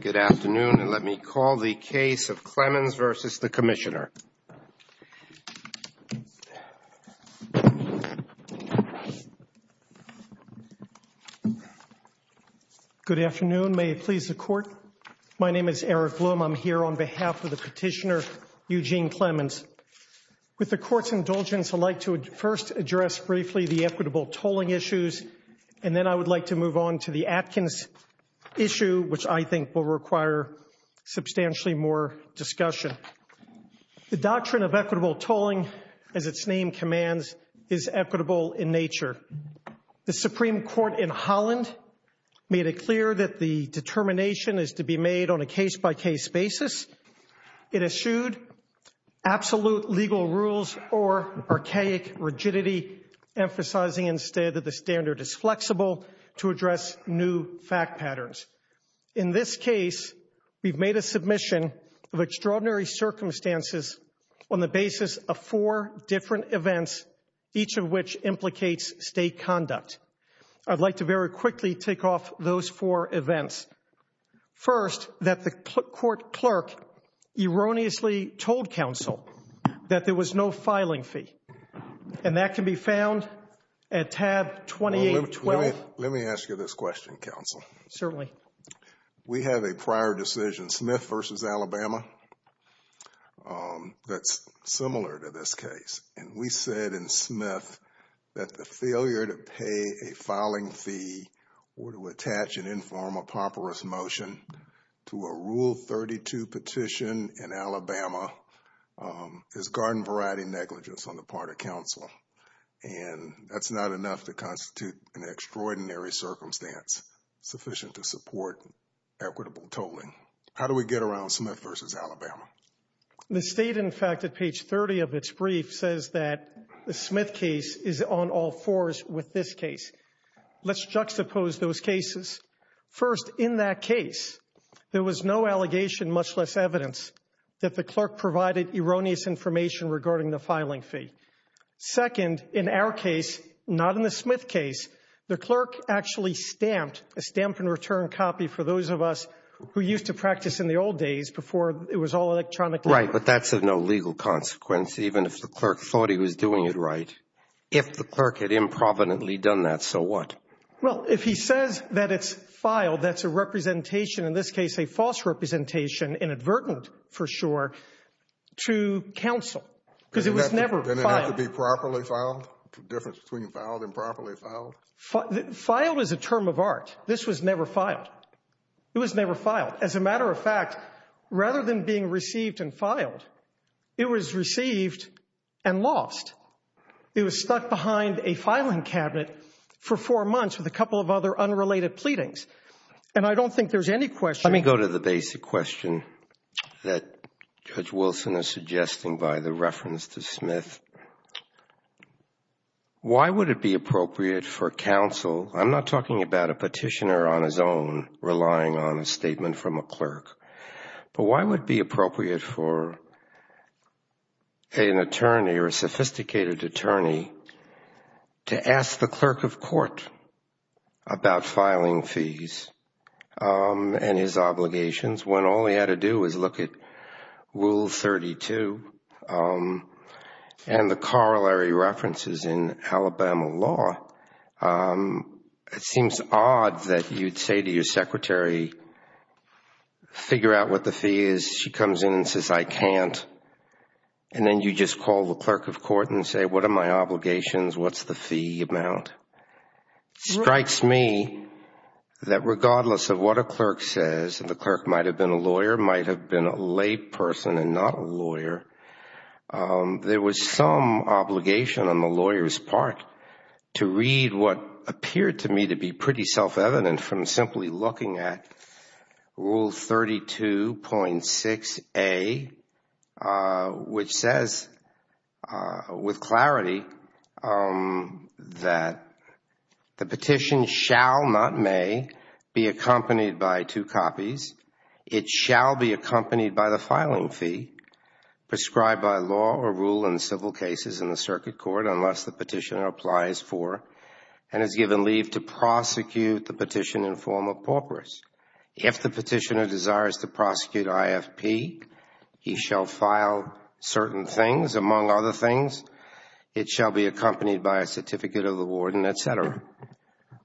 Good afternoon, and let me call the case of Clemons v. the Commissioner. Good afternoon. May it please the Court? My name is Eric Bloom. I'm here on behalf of the Petitioner, Eugene Clemons. With the Court's indulgence, I'd like to first address briefly the equitable tolling issues, and then I would like to move on to the Atkins issue, which I think will require substantially more discussion. The doctrine of equitable tolling, as its name commands, is equitable in nature. The Supreme Court in Holland made it clear that the determination is to be made on a case-by-case basis. It eschewed absolute legal rules or archaic rigidity, emphasizing instead that the standard is flexible to address new fact patterns. In this case, we've made a submission of extraordinary circumstances on the basis of four different events, each of which implicates state conduct. I'd like to very quickly tick off those four events. First, that the court clerk erroneously told counsel that there was no filing fee, and that can be found at tab 2812. Let me ask you this question, counsel. Certainly. We have a prior decision, Smith v. Alabama, that's similar to this case. We said in Smith that the failure to pay a filing fee or to attach an informal properous motion to a Rule 32 petition in Alabama is garden variety negligence on the part of counsel, and that's not enough to constitute an extraordinary circumstance sufficient to support equitable tolling. How do we get around Smith v. Alabama? The state, in fact, at page 30 of its brief says that the Smith case is on all fours with this case. Let's juxtapose those cases. First, in that case, there was no allegation, much less evidence, that the clerk provided erroneous information regarding the filing fee. Second, in our case, not in the Smith case, the clerk actually stamped a stamp-and-return copy for those of us who used to practice in the old days before it was all electronically. Right, but that's of no legal consequence, even if the clerk thought he was doing it right. If the clerk had improvidently done that, so what? Well, if he says that it's filed, that's a representation, in this case, a false representation, inadvertent for sure, to counsel because it was never filed. Didn't it have to be properly filed? The difference between filed and properly filed? Filed is a term of art. This was never filed. It was never filed. As a matter of fact, rather than being received and filed, it was received and lost. It was stuck behind a filing cabinet for four months with a couple of other unrelated pleadings, and I don't think there's any question. Let me go to the basic question that Judge Wilson is suggesting by the reference to counsel. I'm not talking about a petitioner on his own relying on a statement from a clerk, but why would it be appropriate for an attorney or a sophisticated attorney to ask the clerk of court about filing fees and his obligations when all he had to do was look at Article 32 and the corollary references in Alabama law? It seems odd that you'd say to your secretary, figure out what the fee is. She comes in and says, I can't, and then you just call the clerk of court and say, what are my obligations? What's the fee amount? It strikes me that regardless of what a clerk says, and the clerk might have been a lawyer, might have been a person and not a lawyer, there was some obligation on the lawyer's part to read what appeared to me to be pretty self-evident from simply looking at Rule 32.6a, which says with clarity that the petition shall not may be accompanied by two copies. It shall be accompanied by the filing fee prescribed by law or rule in civil cases in the circuit court unless the petitioner applies for and is given leave to prosecute the petition in form of paupers. If the petitioner desires to prosecute IFP, he shall file certain things among other things. It shall be accompanied by a certificate of award and et cetera.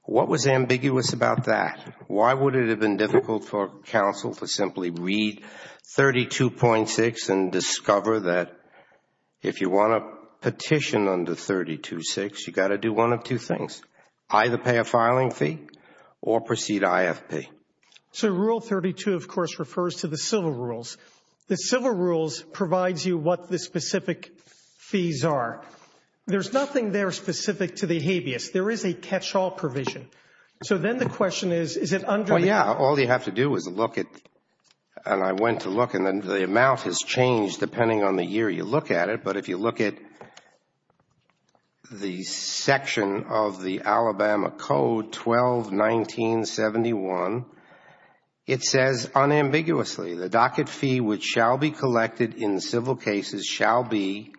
What was ambiguous about that? Why would it have been difficult for counsel to simply read 32.6 and discover that if you want to petition under 32.6, you got to do one of two things, either pay a filing fee or proceed IFP? Rule 32, of course, refers to the civil rules. The civil rules provides you what the specific fees are. There's nothing there specific to the habeas. There is a catch-all provision. So then the question is, is it under? Yeah, all you have to do is look at and I went to look and then the amount has changed depending on the year you look at it, but if you look at the section of the Alabama Code 12-1971, it says unambiguously the docket fee which shall be collected in the civil cases shall be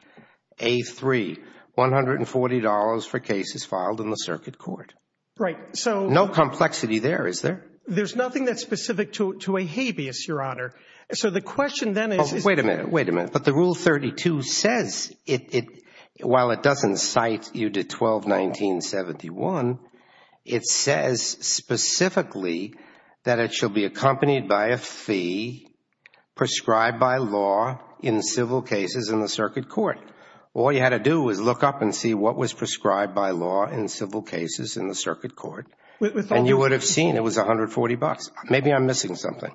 A3, $140 for cases filed in the circuit court. Right, so no complexity there, is there? There's nothing that's specific to a habeas, your honor. So the question then is, wait a minute, wait a minute, but the rule 32 says it while it doesn't cite you to 12-1971, it says specifically that it shall be accompanied by a fee prescribed by law in civil cases in the circuit court. All you had to do was look up and see what was prescribed by law in civil cases in the circuit court and you would have seen it was $140. Maybe I'm missing something.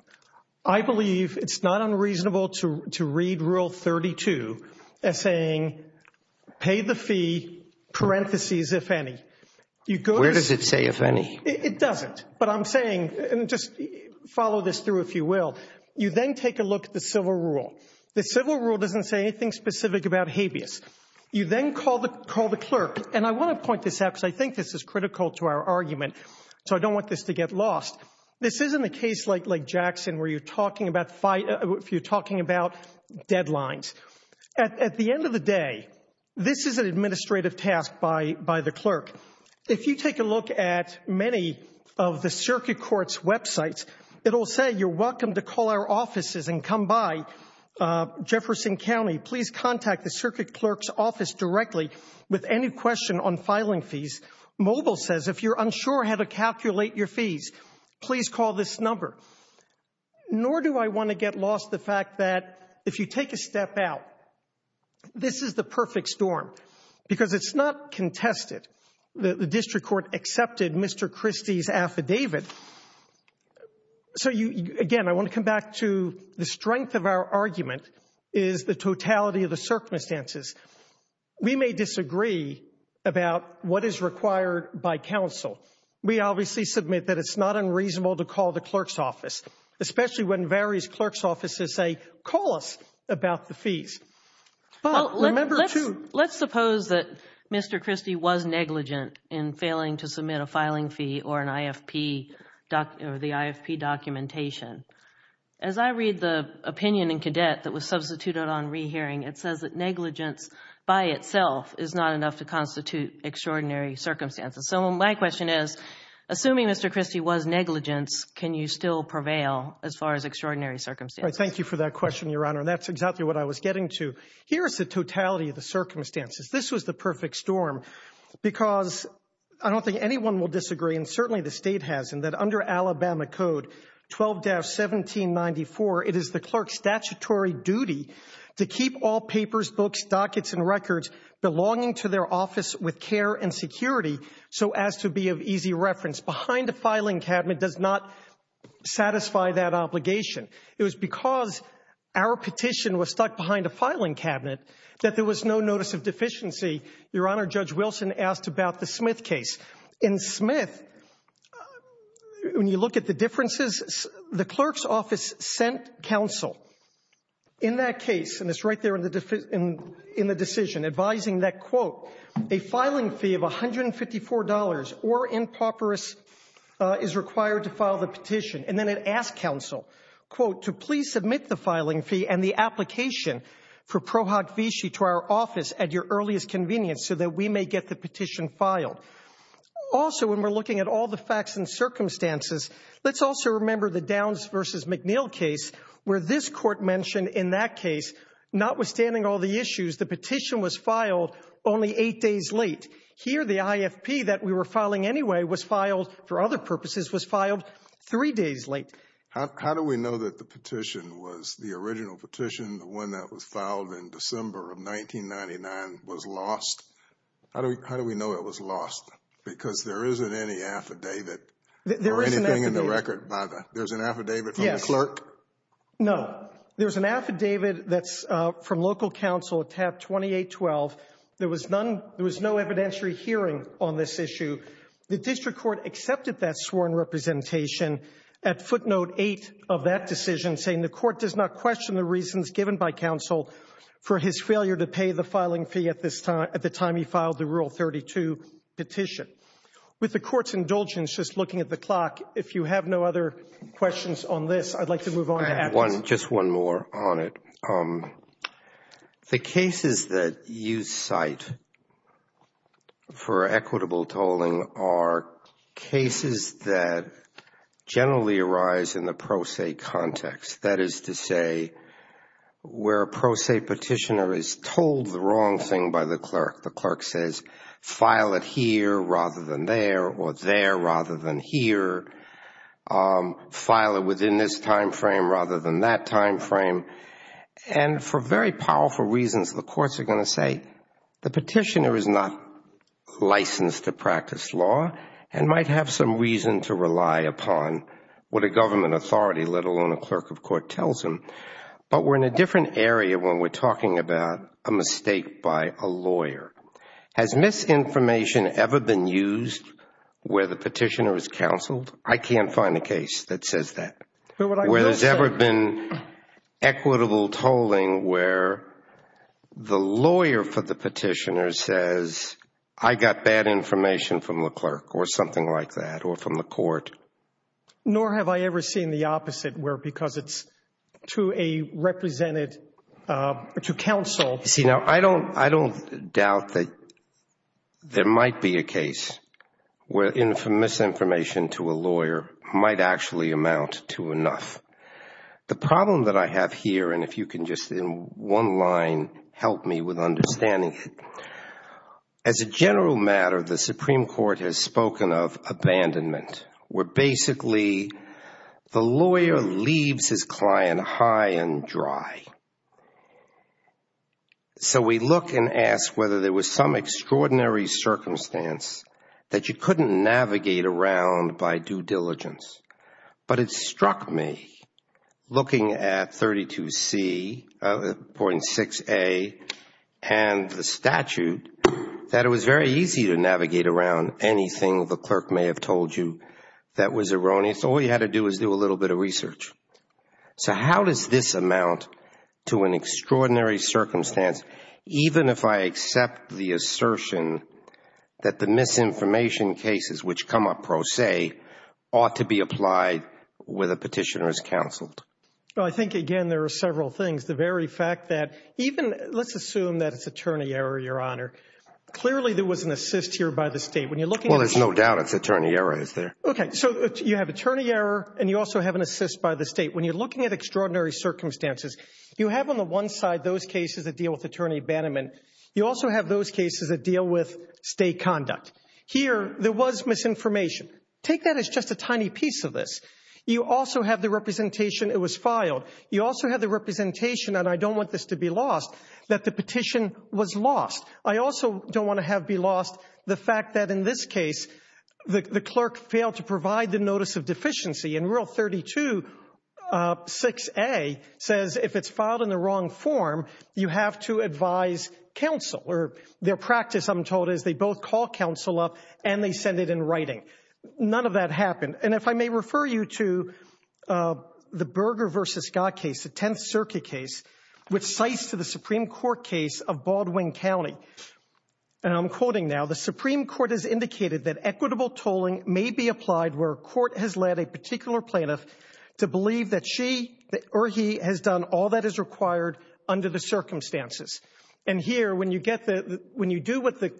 I believe it's not unreasonable to read rule 32 as saying pay the fee parentheses if any. Where does it say if any? It doesn't, but I'm saying, and just follow this through if you will, you then take a look at the civil rule. The civil rule doesn't say anything specific about habeas. You then call the clerk, and I want to point this out because I think this is critical to our argument, so I don't want this to get lost. This isn't a case like Jackson where you're talking about deadlines. At the end of the day, this is an administrative task by the clerk. If you take a look at many of the circuit court's websites, it'll say you're welcome to call our offices and come by Jefferson County. Please contact the circuit clerk's office directly with any question on filing fees. Mobile says if you're unsure how to calculate your fees, please call this number. Nor do I want to get lost the fact that if you take a step out, this is the perfect storm because it's not contested. The district court accepted Mr. Christie's affidavit. So again, I want to come back to the strength of our argument is the totality of the circumstances. We may disagree about what is required by counsel. We obviously submit that it's not unreasonable to call the clerk's office, especially when various clerk's offices say, call us about the fees. Well, let's suppose that Mr. Christie was negligent in failing to submit a filing fee or an IFP or the IFP documentation. As I read the opinion in Cadet that was substituted on rehearing, it says that negligence by itself is not enough to constitute extraordinary circumstances. So my question is, assuming Mr. Christie was negligent, can you still prevail as far as extraordinary circumstances? Thank you for that question, Your Honor. That's exactly what I was getting to. Here's the totality of the circumstances. This was the perfect storm because I don't think anyone will disagree, and certainly the state hasn't, that under Alabama Code 12-1794, it is the clerk's statutory duty to keep all papers, books, dockets, and records belonging to their office with care and security so as to be of easy reference. Behind the filing cabinet does not satisfy that obligation. It was because our petition was stuck behind a filing cabinet that there was no notice of deficiency. Your Honor, Judge Wilson asked about the Smith case. In Smith, when you look at the differences, the clerk's office sent counsel in that case, and it's right there in the decision, advising that, quote, a filing fee of $154 or impoperous is required to file the petition. And then it asked counsel, quote, to please submit the filing fee and the application for ProHoc Vichy to our office at your earliest convenience so that we may get the petition filed. Also, when we're looking at all the facts and circumstances, let's also remember the Downs versus McNeil case, where this court mentioned in that case, notwithstanding all the issues, the petition was filed only eight days late. Here, the IFP that we were filing anyway was filed, for other purposes, was filed three days late. How do we know that the petition was the original petition, the one that was filed in December of 1999, was lost? How do we know it was lost? Because there isn't any affidavit or anything in the record about it. There's an affidavit from the clerk? No. There's an affidavit that's from local counsel, tab 2812. There was no evidentiary hearing on this issue. The district court accepted that sworn representation at footnote eight of that decision, saying the court does not question the reasons given by counsel for his failure to pay the filing fee at the time he filed the Rule 32 petition. With the court's indulgence, just looking at the clock, if you have no other questions on this, I'd like to for equitable tolling are cases that generally arise in the pro se context. That is to say, where a pro se petitioner is told the wrong thing by the clerk. The clerk says, file it here rather than there or there rather than here. File it within this time frame rather than that time frame. For very powerful reasons, the courts are going to say, the petitioner is not licensed to practice law and might have some reason to rely upon what a government authority, let alone a clerk of court, tells him. But we're in a different area when we're talking about a mistake by a lawyer. Has misinformation ever been used where the petitioner is counseled? I can't find a case that says that. Where there's ever been equitable tolling where the lawyer for the petitioner says, I got bad information from the clerk or something like that or from the court. Nor have I ever seen the opposite where because it's to a represented, to counsel. I don't doubt that there might be a case where misinformation to a lawyer might actually amount to enough. The problem that I have here, and if you can just in one line help me with understanding, as a general matter, the Supreme Court has spoken of abandonment, where basically the lawyer leaves his client high and dry. So we look and ask whether there was some extraordinary circumstance that you couldn't navigate around by due diligence. But it struck me, looking at 32C.6a and the statute, that it was very easy to navigate around anything the clerk may have told you that was erroneous. All you had to do is do a little bit of research. So how does this amount to an extraordinary circumstance, even if I accept the assertion that the misinformation cases which come up pro se ought to be applied where the petitioner is counseled? I think, again, there are several things. The very fact that even, let's assume that it's attorney error, Your Honor. Clearly there was an assist here by the state. Well, there's no doubt it's attorney error right there. Okay, so you have attorney error, and you also have an assist by the state. When you're looking at extraordinary circumstances, you have on the one side those cases that deal with attorney abandonment. You also have those cases that deal with state conduct. Here, there was misinformation. Take that as just a tiny piece of this. You also have the representation it was filed. You also have the representation, and I don't want this to be lost, that the petition was lost. I also don't want to have be lost the fact that in this case the clerk failed to provide the notice of deficiency. In Rule 32, 6A says if it's filed in the wrong form, you have to advise counsel. Their practice, I'm told, is they both call counsel up, and they send it in writing. None of that happened. If I may refer you to the Berger v. Scott case, the 10th Circuit case, which cites the Supreme Court case of Baldwin County. I'm quoting now. The Supreme Court has indicated that equitable tolling may be applied where a court has led a particular plaintiff to believe that she or he has done all that is required under the circumstances. Here, when you do what the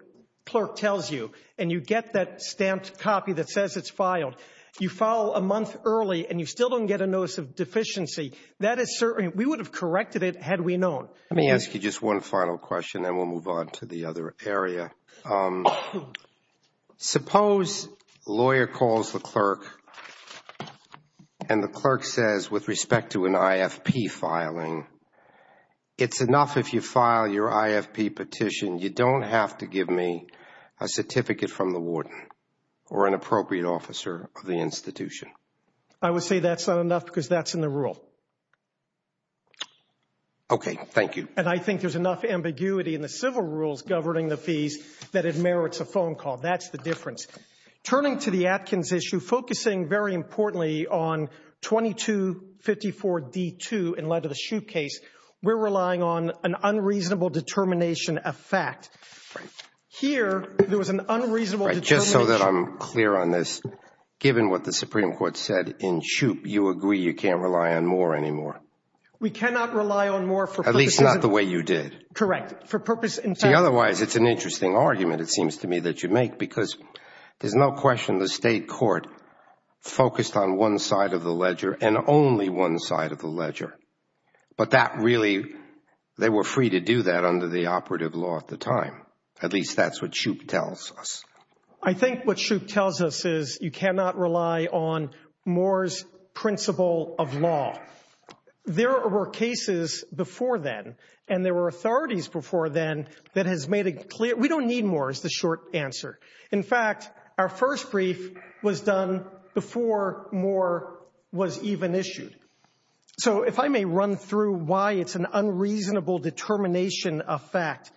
clerk tells you, and you get that stamped copy that says it's filed, you file a month early, and you still don't get a notice of deficiency. We would have corrected it had we known. Let me ask you just one final question, then we'll move on to the other area. Suppose a lawyer calls the clerk, and the clerk says with respect to an IFP filing, it's enough if you file your IFP petition, you don't have to give me a certificate from the warden or an appropriate officer of the institution. I would say that's not enough because that's in the rule. Okay, thank you. And I think there's enough ambiguity in the civil rules governing the fees that it merits a phone call. That's the difference. Turning to the Atkins issue, focusing very importantly on 2254B2 in light of the Shoup case, we're relying on an unreasonable determination of fact. Here, there was an unreasonable determination. Just so that I'm clear on this, given what the Supreme Court said in Shoup, you agree you can't rely on more than anymore. We cannot rely on more. At least not the way you did. Correct. Otherwise, it's an interesting argument, it seems to me, that you make because there's no question the state court focused on one side of the ledger and only one side of the ledger. But that really, they were free to do that under the operative law at the time. At least that's what Shoup tells us. I think what Shoup tells us is you cannot rely on Moore's principle of law. There were cases before then and there were authorities before then that has made it clear we don't need more is the short answer. In fact, our first brief was done before Moore was even issued. So if I may run through why it's an unreasonable determination of fact.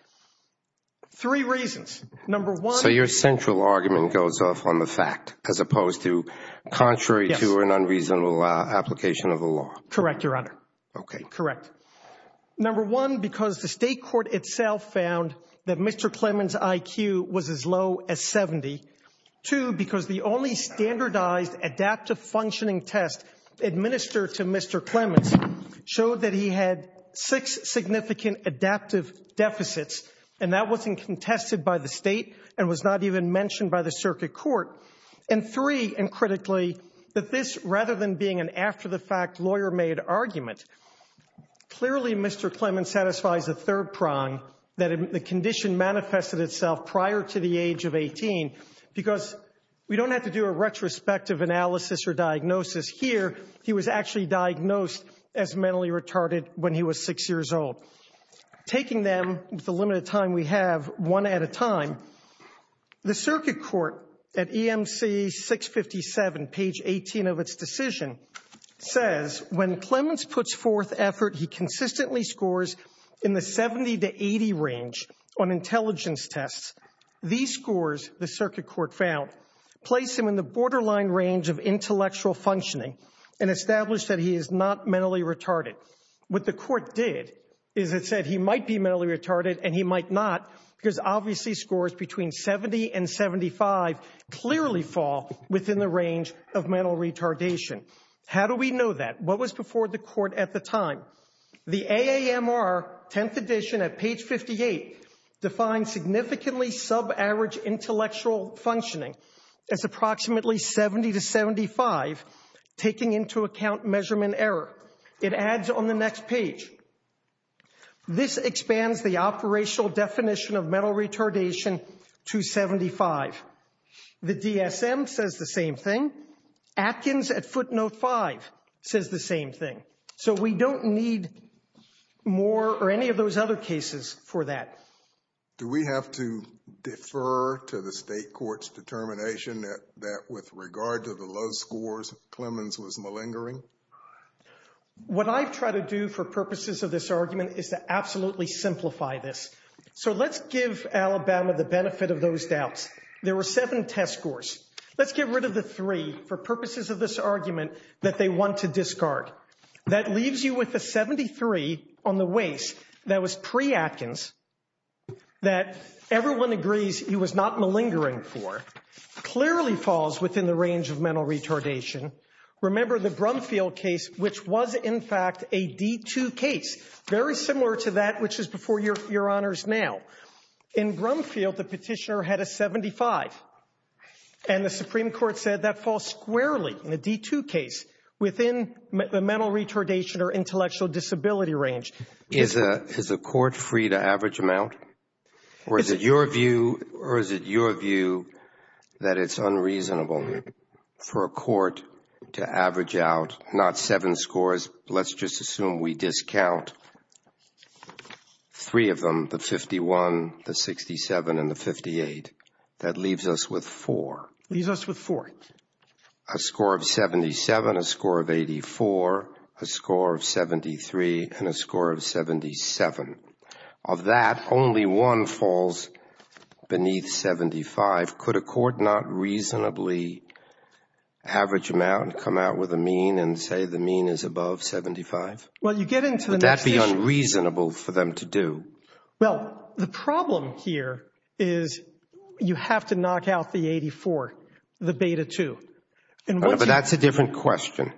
Three reasons. Number one- So your central argument goes off on the fact as opposed to contrary to an unreasonable application of the law. Correct, your honor. Okay, correct. Number one, because the state court itself found that Mr. Clemens' IQ was as low as 70. Two, because the only standardized adaptive functioning test administered to Mr. Clemens showed that he had six significant adaptive deficits and that wasn't contested by the state and was not even mentioned by the circuit court. And three, and critically, that this, rather than being an after-the-fact lawyer-made argument, clearly Mr. Clemens satisfies the third prong, that the condition manifested itself prior to the age of 18. Because we don't have to do a retrospective analysis or diagnosis here, he was actually diagnosed as mentally retarded when he was six years old. Taking them, the limited time we have, one at a time, the circuit court at EMC 657, page 18 of its decision, says when Clemens puts forth effort, he consistently scores in the 70 to 80 range on intelligence tests. These scores, the circuit court found, place him in the borderline range of intellectual functioning and established that he is not mentally retarded. What the court did is it said he might be mentally retarded and he might not, because obviously scores between 70 and 75 clearly fall within the range of mental retardation. How do we know that? What was before the court at the time? The AAMR 10th edition at page 58 defines significantly sub-average intellectual functioning as approximately 70 to 75, taking into account measurement error. It adds on the next page. This expands the operational definition of mental retardation to 75. The DSM says the same thing. Atkins at footnote five says the same thing. So we don't need more or any of those other cases for that. Do we have to defer to the state court's determination that with regard to the low scores, Clemens was malingering? What I try to do for purposes of this argument is to absolutely simplify this. So let's give Alabama the benefit of those doubts. There were seven test scores. Let's get rid of the three for purposes of this argument that they want to discard. That leaves you with the 73 on the waste that was pre-Atkins that everyone agrees he was not malingering for. Clearly falls within the range of mental retardation. Remember the Brumfield case, which was in fact a D2 case, very similar to that which is before your honors now. In Brumfield, the petitioner had a 75, and the Supreme Court said that falls squarely in a D2 case within the mental retardation or intellectual disability range. Is a court free to average amount? Or is it your view that it's unreasonable for a court to average out not seven scores? Let's just assume we discount three of them, the 51, the 67, and the 58. That leaves us with four. Leaves us with four. A score of 77, a score of 84, a score of 73, and a score of 77. Of that, only one falls beneath 75. Could a court not reasonably average them out and come out with a mean and say the mean is above 75? Would that be unreasonable for them to do? Well, the problem here is you have to knock out the 84, the beta 2. But that's a different question,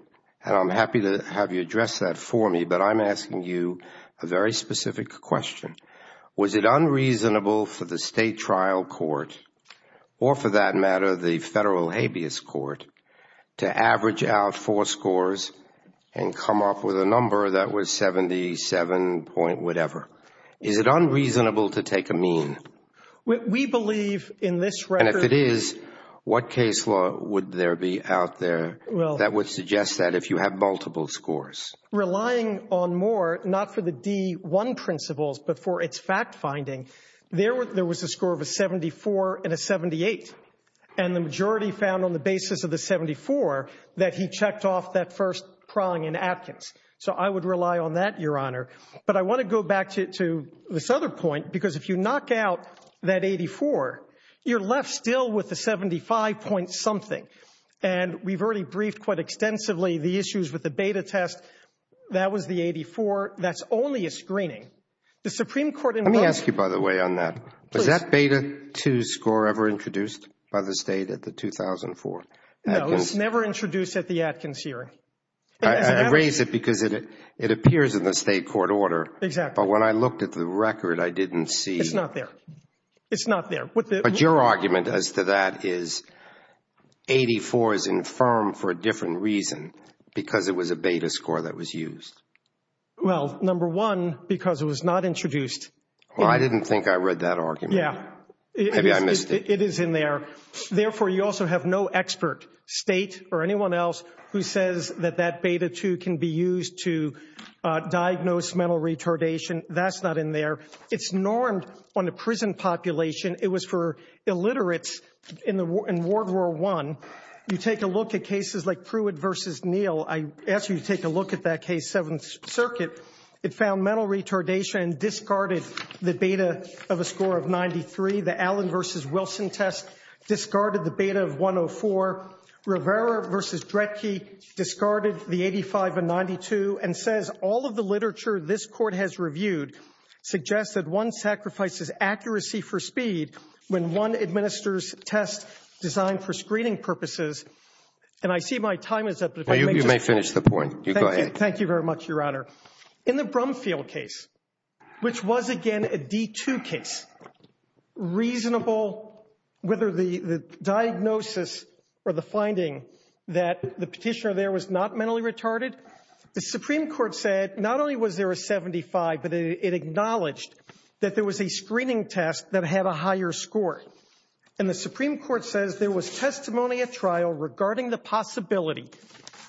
and I'm happy to have you address that for me, but I'm asking you a very specific question. Was it unreasonable for the state trial court, or for that matter, the federal habeas court, to average out four scores and come up with a number that was 77 point whatever? Is it unreasonable to take a mean? We believe in this record. And if it is, what case would there be out there that would suggest that if you have multiple scores? Relying on more, not for the D1 principles, but for its fact finding, there was a score of a 74 and a 78. And the majority found on the basis of the 74 that he checked off that first prong in absence. So I would rely on that, Your Honor. But I want to go back to this other point, because if you knock out that 84, you're left still with a 75 point something. And we've already briefed quite extensively the issues with the beta test. That was the 84. That's only a screening. The Supreme Court in- Let me ask you, by the way, on that. Was that beta 2 score ever introduced by the state at the 2004? No, it's never introduced at the Atkins hearing. I raised it because it appears in the state court order. Exactly. But when I looked at the record, I didn't see- It's not there. It's not there. But your argument as to that is 84 is infirm for a different reason, because it was a beta score that was used. Well, number one, because it was not introduced- Well, I didn't think I read that state or anyone else who says that that beta 2 can be used to diagnose mental retardation. That's not in there. It's normed on the prison population. It was for illiterates in World War I. You take a look at cases like Pruitt v. Neal. I asked you to take a look at that K7 circuit. It found mental retardation and discarded the beta of a score of 93. The Allen v. Wilson test discarded the beta of 104. Rivera v. Dretke discarded the 85 and 92 and says all of the literature this court has reviewed suggests that one sacrifices accuracy for speed when one administers tests designed for screening purposes. And I see my time is up. You may finish the point. You go ahead. Thank you very much, Your Honor. In the Brumfield case, which was again a D2 case, reasonable, whether the diagnosis or the finding that the petitioner there was not mentally retarded, the Supreme Court said not only was there a 75, but it acknowledged that there was a screening test that had a higher score. And the Supreme Court says there was testimony at trial regarding the possibility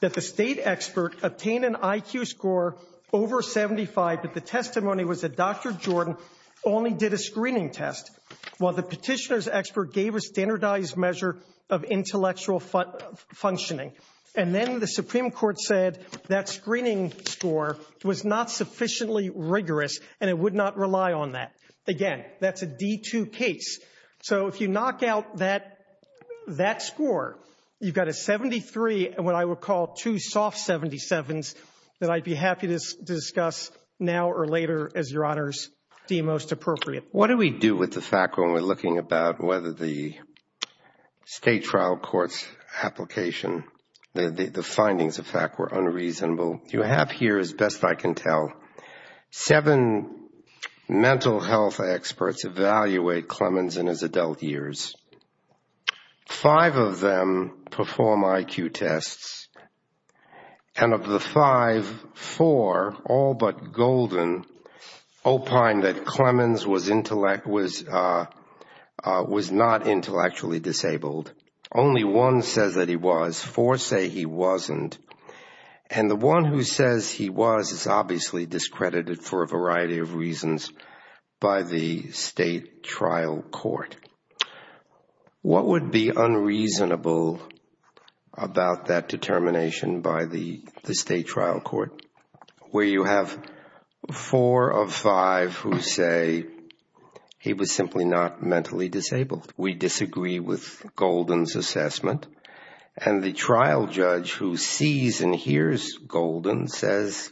that the state expert obtained an IQ score over 75, but the testimony was that Dr. Jordan only did a screening test, while the petitioner's expert gave a standardized measure of intellectual functioning. And then the Supreme Court said that screening score was not sufficiently rigorous and it would not rely on that. Again, that's a D2 case. So if you knock out that score, you've got a 73, what I would call two soft 77s that I'd be happy to discuss now or later as Your Honors see most appropriate. What do we do with the fact when we're looking about whether the state trial court's application, the findings of fact were unreasonable? You have here, as best I can tell, seven mental health experts evaluate Clemens in his adult years. Five of them perform IQ tests. And of the five, four, all but golden, opine that Clemens was not intellectually disabled. Only one says that he was, four say he wasn't. And the one who says he was is obviously discredited for a variety of reasons by the state trial court. What would be unreasonable about that determination by the state trial court? Where you have four of five who say he was simply not mentally disabled. We disagree with Golden's assessment. And the trial judge who sees and hears Golden says,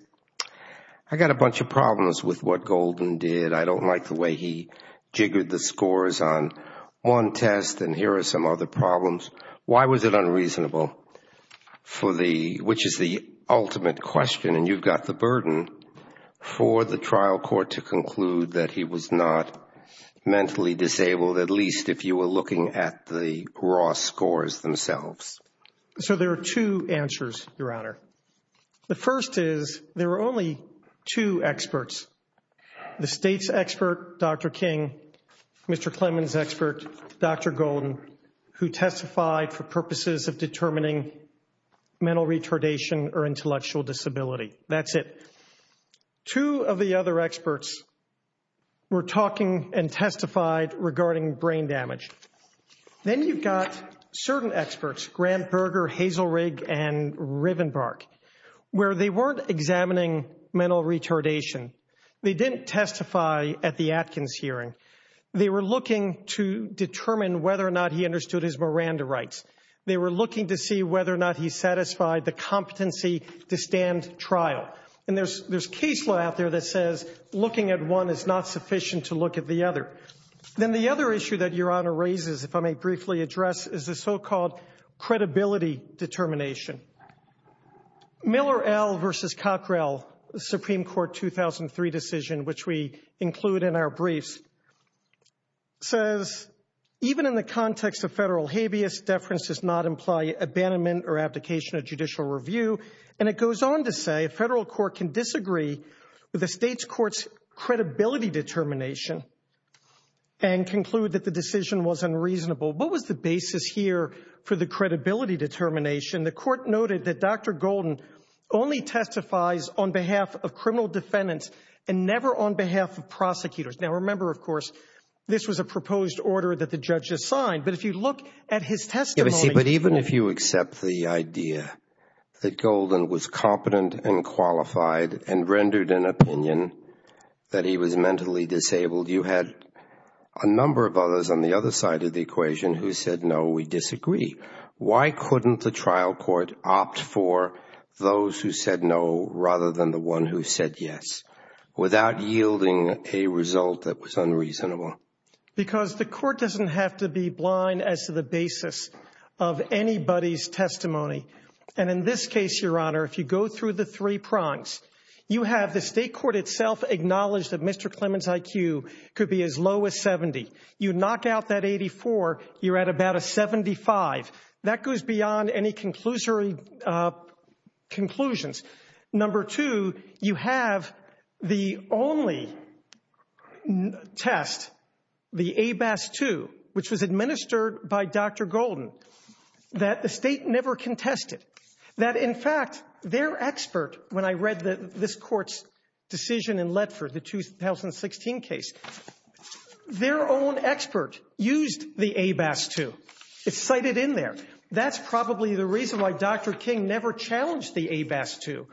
I got a bunch of problems with what Golden did. I don't like the way he jiggered the scores on one test. And here are some other problems. Why was it unreasonable? Which is the ultimate question. And you've got the burden for the trial court to conclude that he was not mentally disabled, at least if you were looking at the raw scores themselves. So there are two answers, Your Honor. The first is there are only two experts. The state's expert, Dr. King, Mr. Clemens' expert, Dr. Golden, who testified for purposes of determining mental retardation or intellectual disability. That's it. Two of the other experts were talking and testified regarding brain damage. Then you've got certain experts, Grant Berger, Hazel Rigg, and Rivenbark, where they weren't examining mental retardation. They didn't testify at the Atkins hearing. They were looking to determine whether or not he understood his Miranda rights. They were looking to see whether or not he satisfied the competency to stand trial. And there's case law out there that says looking at one is not sufficient to look at the other. Then the other issue that Your Honor raises, if I may briefly address, is the so-called credibility determination. Miller, L. versus Cockrell, Supreme Court 2003 decision, which we include in our briefs, says, even in the context of federal habeas, deference does not imply abandonment or abdication of judicial review. And it goes on to say a federal court can disagree with the state's court's credibility determination and conclude that the decision was unreasonable. What was the basis here for the credibility determination? The court noted that Dr. Golden only testifies on behalf of criminal defendants and never on behalf of prosecutors. Now, remember, of course, this was a proposed order that the judge assigned. But if you look at his testimony- But even if you accept the idea that Golden was competent and qualified and rendered an opinion that he was mentally disabled, you had a number of others on the other side of the equation who said, no, we disagree. Why couldn't the trial court opt for those who said no rather than the who said yes without yielding a result that was unreasonable? Because the court doesn't have to be blind as to the basis of anybody's testimony. And in this case, Your Honor, if you go through the three prongs, you have the state court itself acknowledge that Mr. Clement's IQ could be as low as 70. You knock out that 84, you're at about a 75. That goes beyond any conclusory conclusions. Number two, you have the only test, the ABAS-2, which was administered by Dr. Golden, that the state never contested. That, in fact, their expert, when I read this court's decision in Letford, the 2016 case, their own expert used the ABAS-2. It's cited in there. That's probably the reason why Dr. King never challenged the ABAS-2.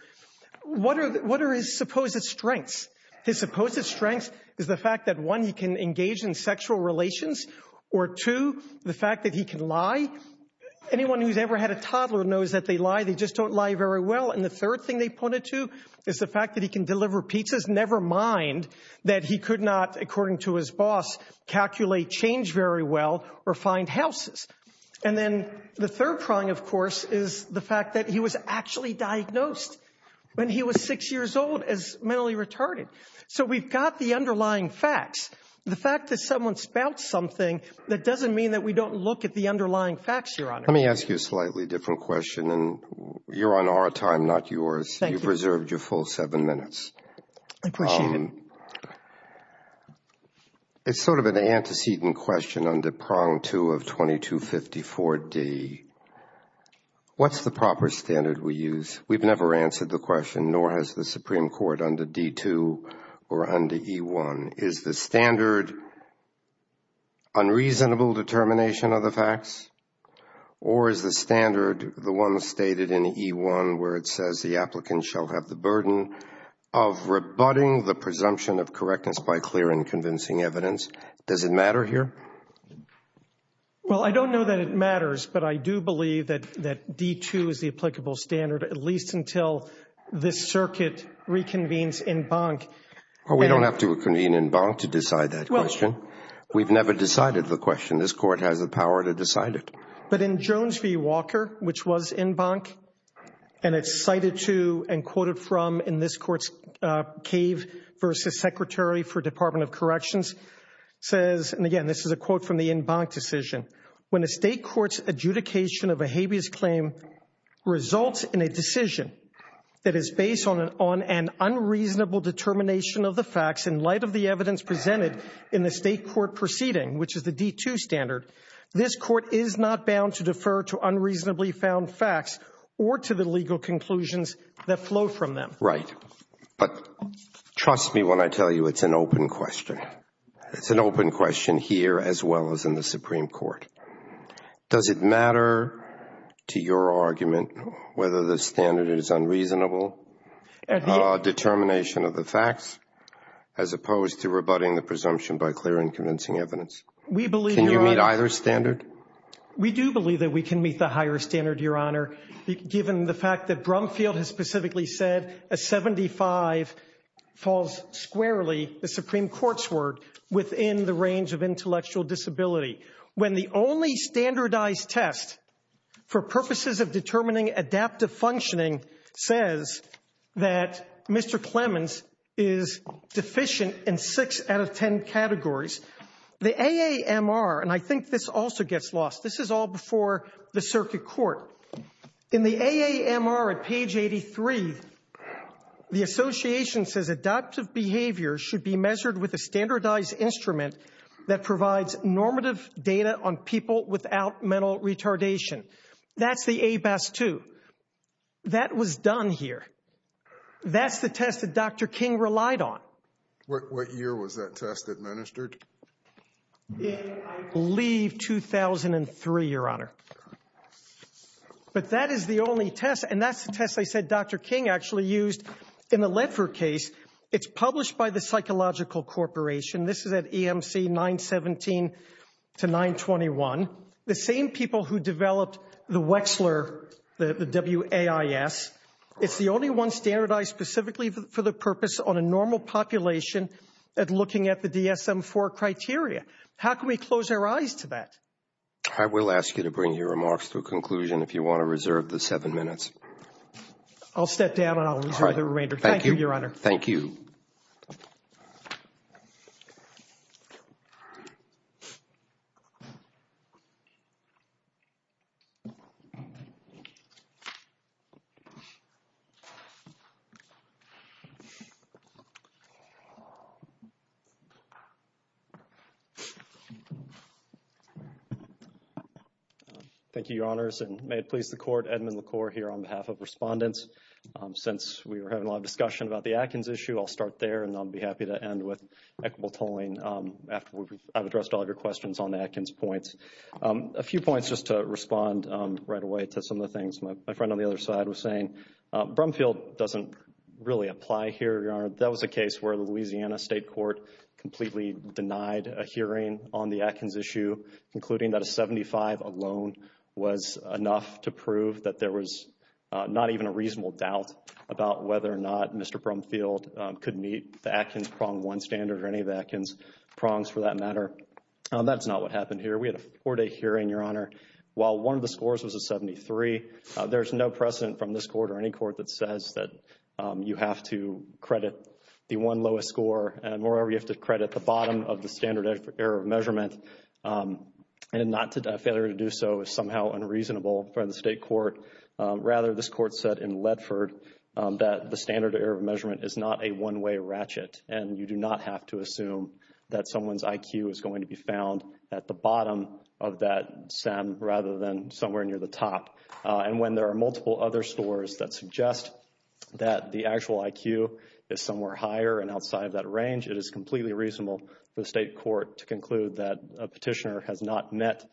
What are his supposed strengths? His supposed strengths is the fact that, one, you can engage in sexual relations, or two, the fact that he can lie. Anyone who's ever had a toddler knows that they lie, they just don't lie very well. And the third thing they pointed to is the fact that he can deliver pizzas, never mind that he could not, according to his boss, calculate change very well or find houses. And then the third prong, of course, is the fact that he was actually diagnosed when he was six years old as mentally retarded. So we've got the underlying facts. The fact that someone spouts something, that doesn't mean that we don't look at the underlying facts, Your Honor. Let me ask you a slightly different question, and you're on our time, not yours. Thank you. You've reserved your full seven minutes. I appreciate it. It's sort of an antecedent question on the prong two of 2254D. What's the proper standard we use? We've never answered the question, nor has the Supreme Court under D-2 or under E-1. Is the standard unreasonable determination of the facts, or is the standard, the one stated in E-1, where it says the applicant shall have the burden of rebutting the presumption of correctness by clearing convincing evidence, does it matter here? Well, I don't know that it matters, but I do believe that D-2 is the applicable standard, at least until this circuit reconvenes en banc. We don't have to reconvene en banc to decide that question. We've never decided the question. This Court has the power to decide it. But in Jones v. Walker, which was en banc, and it's cited to and quoted from in this Court's Cave v. Secretary for Department of Corrections, says, and again, this is a quote from the en banc decision, when a state court's adjudication of a habeas claim results in a decision that is based on an unreasonable determination of the facts in light of the evidence presented in the state court proceeding, which is the D-2 standard, this Court is not bound to defer to unreasonably found facts or to the legal conclusions that flow from them. Right. But trust me when I tell you it's an open question. It's an open question here as well as in the Supreme Court. Does it matter to your argument whether the standard is unreasonable determination of the facts as opposed to rebutting the presumption by clear and convincing evidence? We believe... Can you meet either standard? We do believe that we can meet the higher standard, Your Honor, given the fact that Brumfield has specifically said a 75 falls squarely, the Supreme Court's word, within the range of intellectual disability. When the only standardized test for purposes of determining adaptive functioning says that Mr. Clements is deficient in six out of ten categories, the AAMR, and I think this also gets lost, this is all before the circuit court. In the AAMR at page 83, the association says adaptive behavior should be measured with a standardized instrument that provides normative data on people without mental retardation. That's the ABAS-2. That was done here. That's the test that Dr. King relied on. What year was that test administered? I believe 2003, Your Honor. But that is the only test, and that's the test I said Dr. King actually used in the Lether case. It's published by the Psychological Corporation. This is at EMC 917 to 921. The same people who developed the Wechsler, the WAIS, it's the only one standardized specifically for the purpose on a normal population at looking at the DSM-IV criteria. How can we close our eyes to that? I will ask you to bring your remarks to a conclusion if you want to reserve the seven minutes. I'll step down, and I'll reserve the remainder. Thank you, Your Honor. Thank you. Thank you, Your Honors, and may it please the Court, Edmund LaCour here on behalf of respondents. Since we were having a lot of discussion about the Atkins issue, I'll start there, and I'll be happy to end with equitable polling after I've addressed all your questions on Atkins points. A few points just to respond right away to some of the things my friend on the other side was saying. Brumfield doesn't really apply here, Your Honor. That was a case where the Louisiana State Court completely denied a hearing on the Atkins issue, concluding that a 75 alone was enough to prove that there was not even a reasonable doubt about whether or not Mr. Brumfield could meet the Atkins prong one standard or any of the Atkins prongs for that matter. That's not what happened here. We had a four-day hearing, Your Honor. While one of the scores was a 73, there's no precedent from this Court or any Court that says that you have to credit the one lowest score, and moreover, you have to credit the bottom of standard error of measurement, and not to failure to do so is somehow unreasonable from the State Court. Rather, this Court said in Ledford that the standard error of measurement is not a one-way ratchet, and you do not have to assume that someone's IQ is going to be found at the bottom of that stem rather than somewhere near the top. And when there are multiple other scores that suggest that the actual IQ is somewhere higher and outside of that range, it is completely reasonable for the State Court to conclude that a petitioner has not met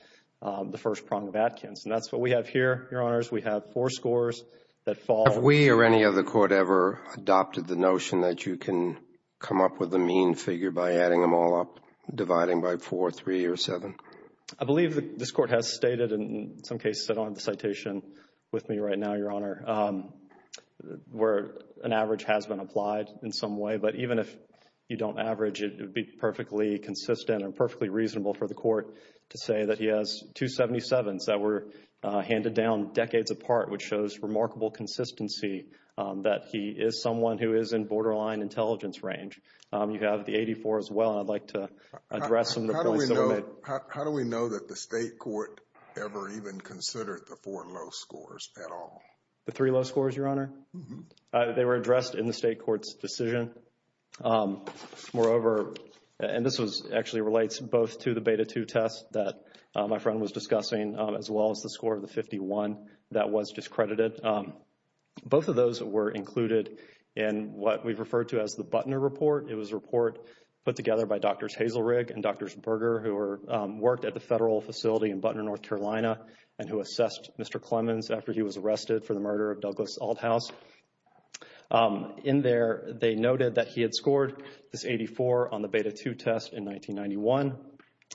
the first prong of Atkins. And that's what we have here, Your Honors. We have four scores that fall. Have we or any other Court ever adopted the notion that you can come up with a mean figure by adding them all up, dividing by four, three, or seven? I believe this Court has stated, and in some cases I don't have the citation with me right now, Your Honor, where an average has been applied in some way. But even if you don't average it, it would be perfectly consistent and perfectly reasonable for the Court to say that he has 277s that were handed down decades apart, which shows remarkable consistency that he is someone who is in borderline intelligence range. You have the 84 as well. I'd like to address some of the points that were made. How do we know that the State Court ever even considered the four low scores at all? The three low scores, Your Honor? They were addressed in the State Court's decision. Moreover, and this actually relates both to the Beta 2 test that my friend was discussing, as well as the score of the 51 that was discredited. Both of those were included in what we refer to as the Buttner Report. It was a report put together by Drs. Hazelrig and Drs. Berger, who worked at the Federal Facility in Buttner, North Carolina, and who assessed Mr. Clemens after he was arrested for the murder of Douglas Althaus. In there, they noted that he had scored this 84 on the Beta 2 test in 1991,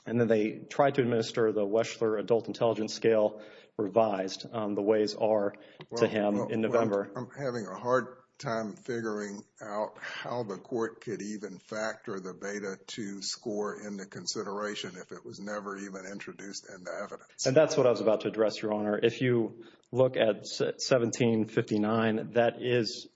and then they tried to administer the Weschler Adult Intelligence Scale revised the ways are to him in November. I'm having a hard time figuring out how the Court could even factor the Beta 2 score into consideration if it was never even introduced into evidence. And that's what I was about to address, Your Honor. If you look at 1759, that is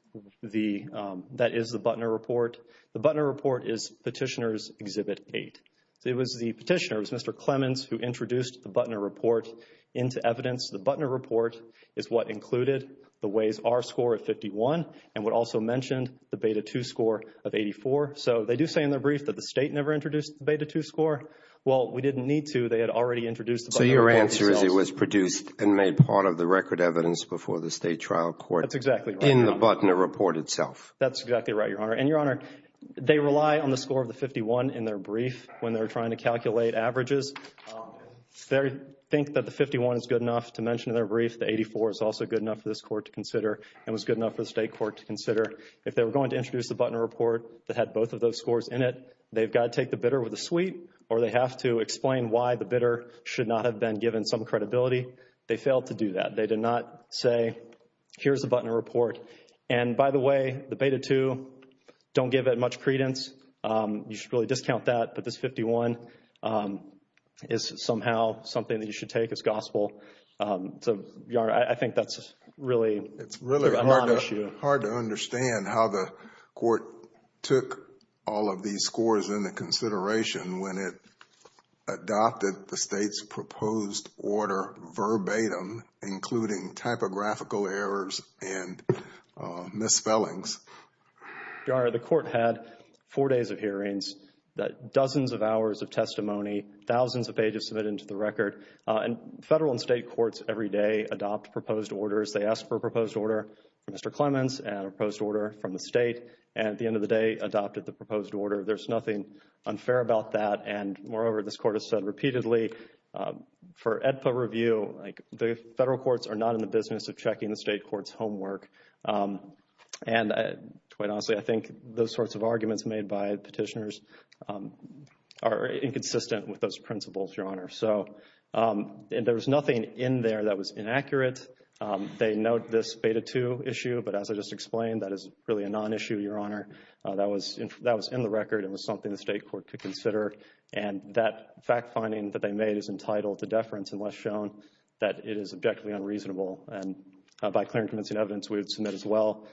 the Buttner Report. The Buttner Report is Petitioner's Exhibit 8. It was the petitioners, Mr. Clemens, who introduced the Buttner Report into evidence. The Buttner Report is what included the Ways-R score of 51, and would also mention the Beta 2 score of 84. So, they do say in the brief that the State never introduced the Beta 2 score. Well, we didn't need to. They had already introduced it. So, your answer is it was produced and made part of the record evidence before the State trial court in the Buttner Report itself. That's exactly right, Your Honor. And, Your Honor, they rely on the score of the 51 in their brief when they're trying to calculate averages. They think that the 51 is good enough to mention in their brief. The 84 is also good enough for this Court to consider and was good enough for the State Court to consider. If they were going to introduce the Buttner Report that had both of those scores in it, they've got to take the bidder with a sweet, or they have to explain why the bidder should not have been given some credibility. They failed to do that. They did not say, here's the Buttner Report. And, by the way, the Beta 2, don't give it much credence. You should really discount that, but this 51 is somehow something that you should take as gospel. So, Your Honor, I think that's really an issue. It's really hard to understand how the court took all of these scores into consideration when it adopted the State's proposed order verbatim, including typographical errors and misspellings. Your Honor, the court had four days of hearings, dozens of hours of testimony, thousands of pages submitted into the record. Federal and State courts every day adopt proposed orders. They ask for a proposed order from Mr. Clements and a proposed order from the State, and at the end of the day, adopted the proposed order. There's nothing unfair about that. And, moreover, this court has said federal courts are not in the business of checking the State court's homework. And, quite honestly, I think those sorts of arguments made by petitioners are inconsistent with those principles, Your Honor. So, there's nothing in there that was inaccurate. They note this Beta 2 issue, but as I just explained, that is really a non-issue, Your Honor. That was in the record. It was something the State court could consider. And that fact finding that they made is entitled to deference unless shown that it is objectively unreasonable. And, by clear and convincing evidence, we would submit as well,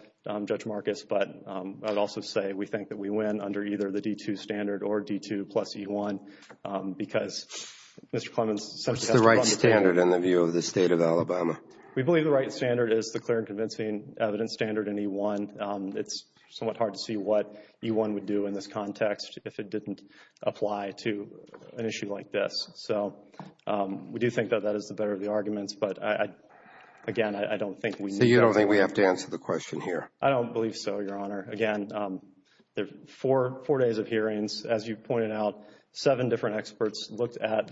Judge Marcus. But, I would also say we think that we win under either the D2 standard or D2 plus E1 because Mr. Clements... It's the right standard in the view of the State of Alabama. We believe the right standard is the clear and convincing evidence standard in E1. It's somewhat hard to see what E1 would do in this context if it didn't apply to an issue like this. So, we do think that that is the better of the arguments. But, again, I don't think... So, you don't think we have to answer the question here? I don't believe so, Your Honor. Again, four days of hearings, as you pointed out, seven different experts looked at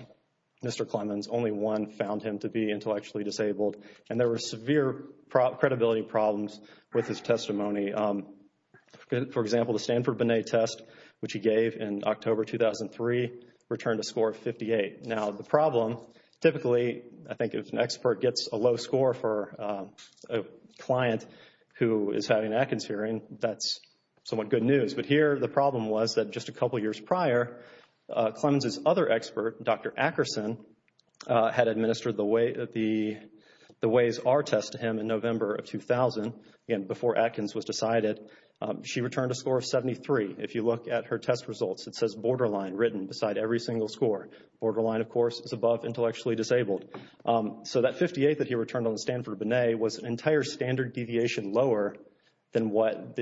Mr. Clements. Only one found him to be intellectually disabled. And there were severe credibility problems with his testimony. For example, the Stanford-Binet test, which he gave in October 2003, returned a score of 58. Now, the problem, typically, I think if an expert gets a low score for a client who is having an Atkins hearing, that's somewhat good news. But here, the problem was that just a couple years prior, Clements' other expert, Dr. Ackerson, had administered the Ways R test to him in November of 2000, again, before Atkins was decided. She returned a score of 73. If you look at her test results, it says borderline written beside every single score. Borderline, of course, is above intellectually disabled. So, that 58 that he returned on Stanford-Binet was an entire standard deviation lower than what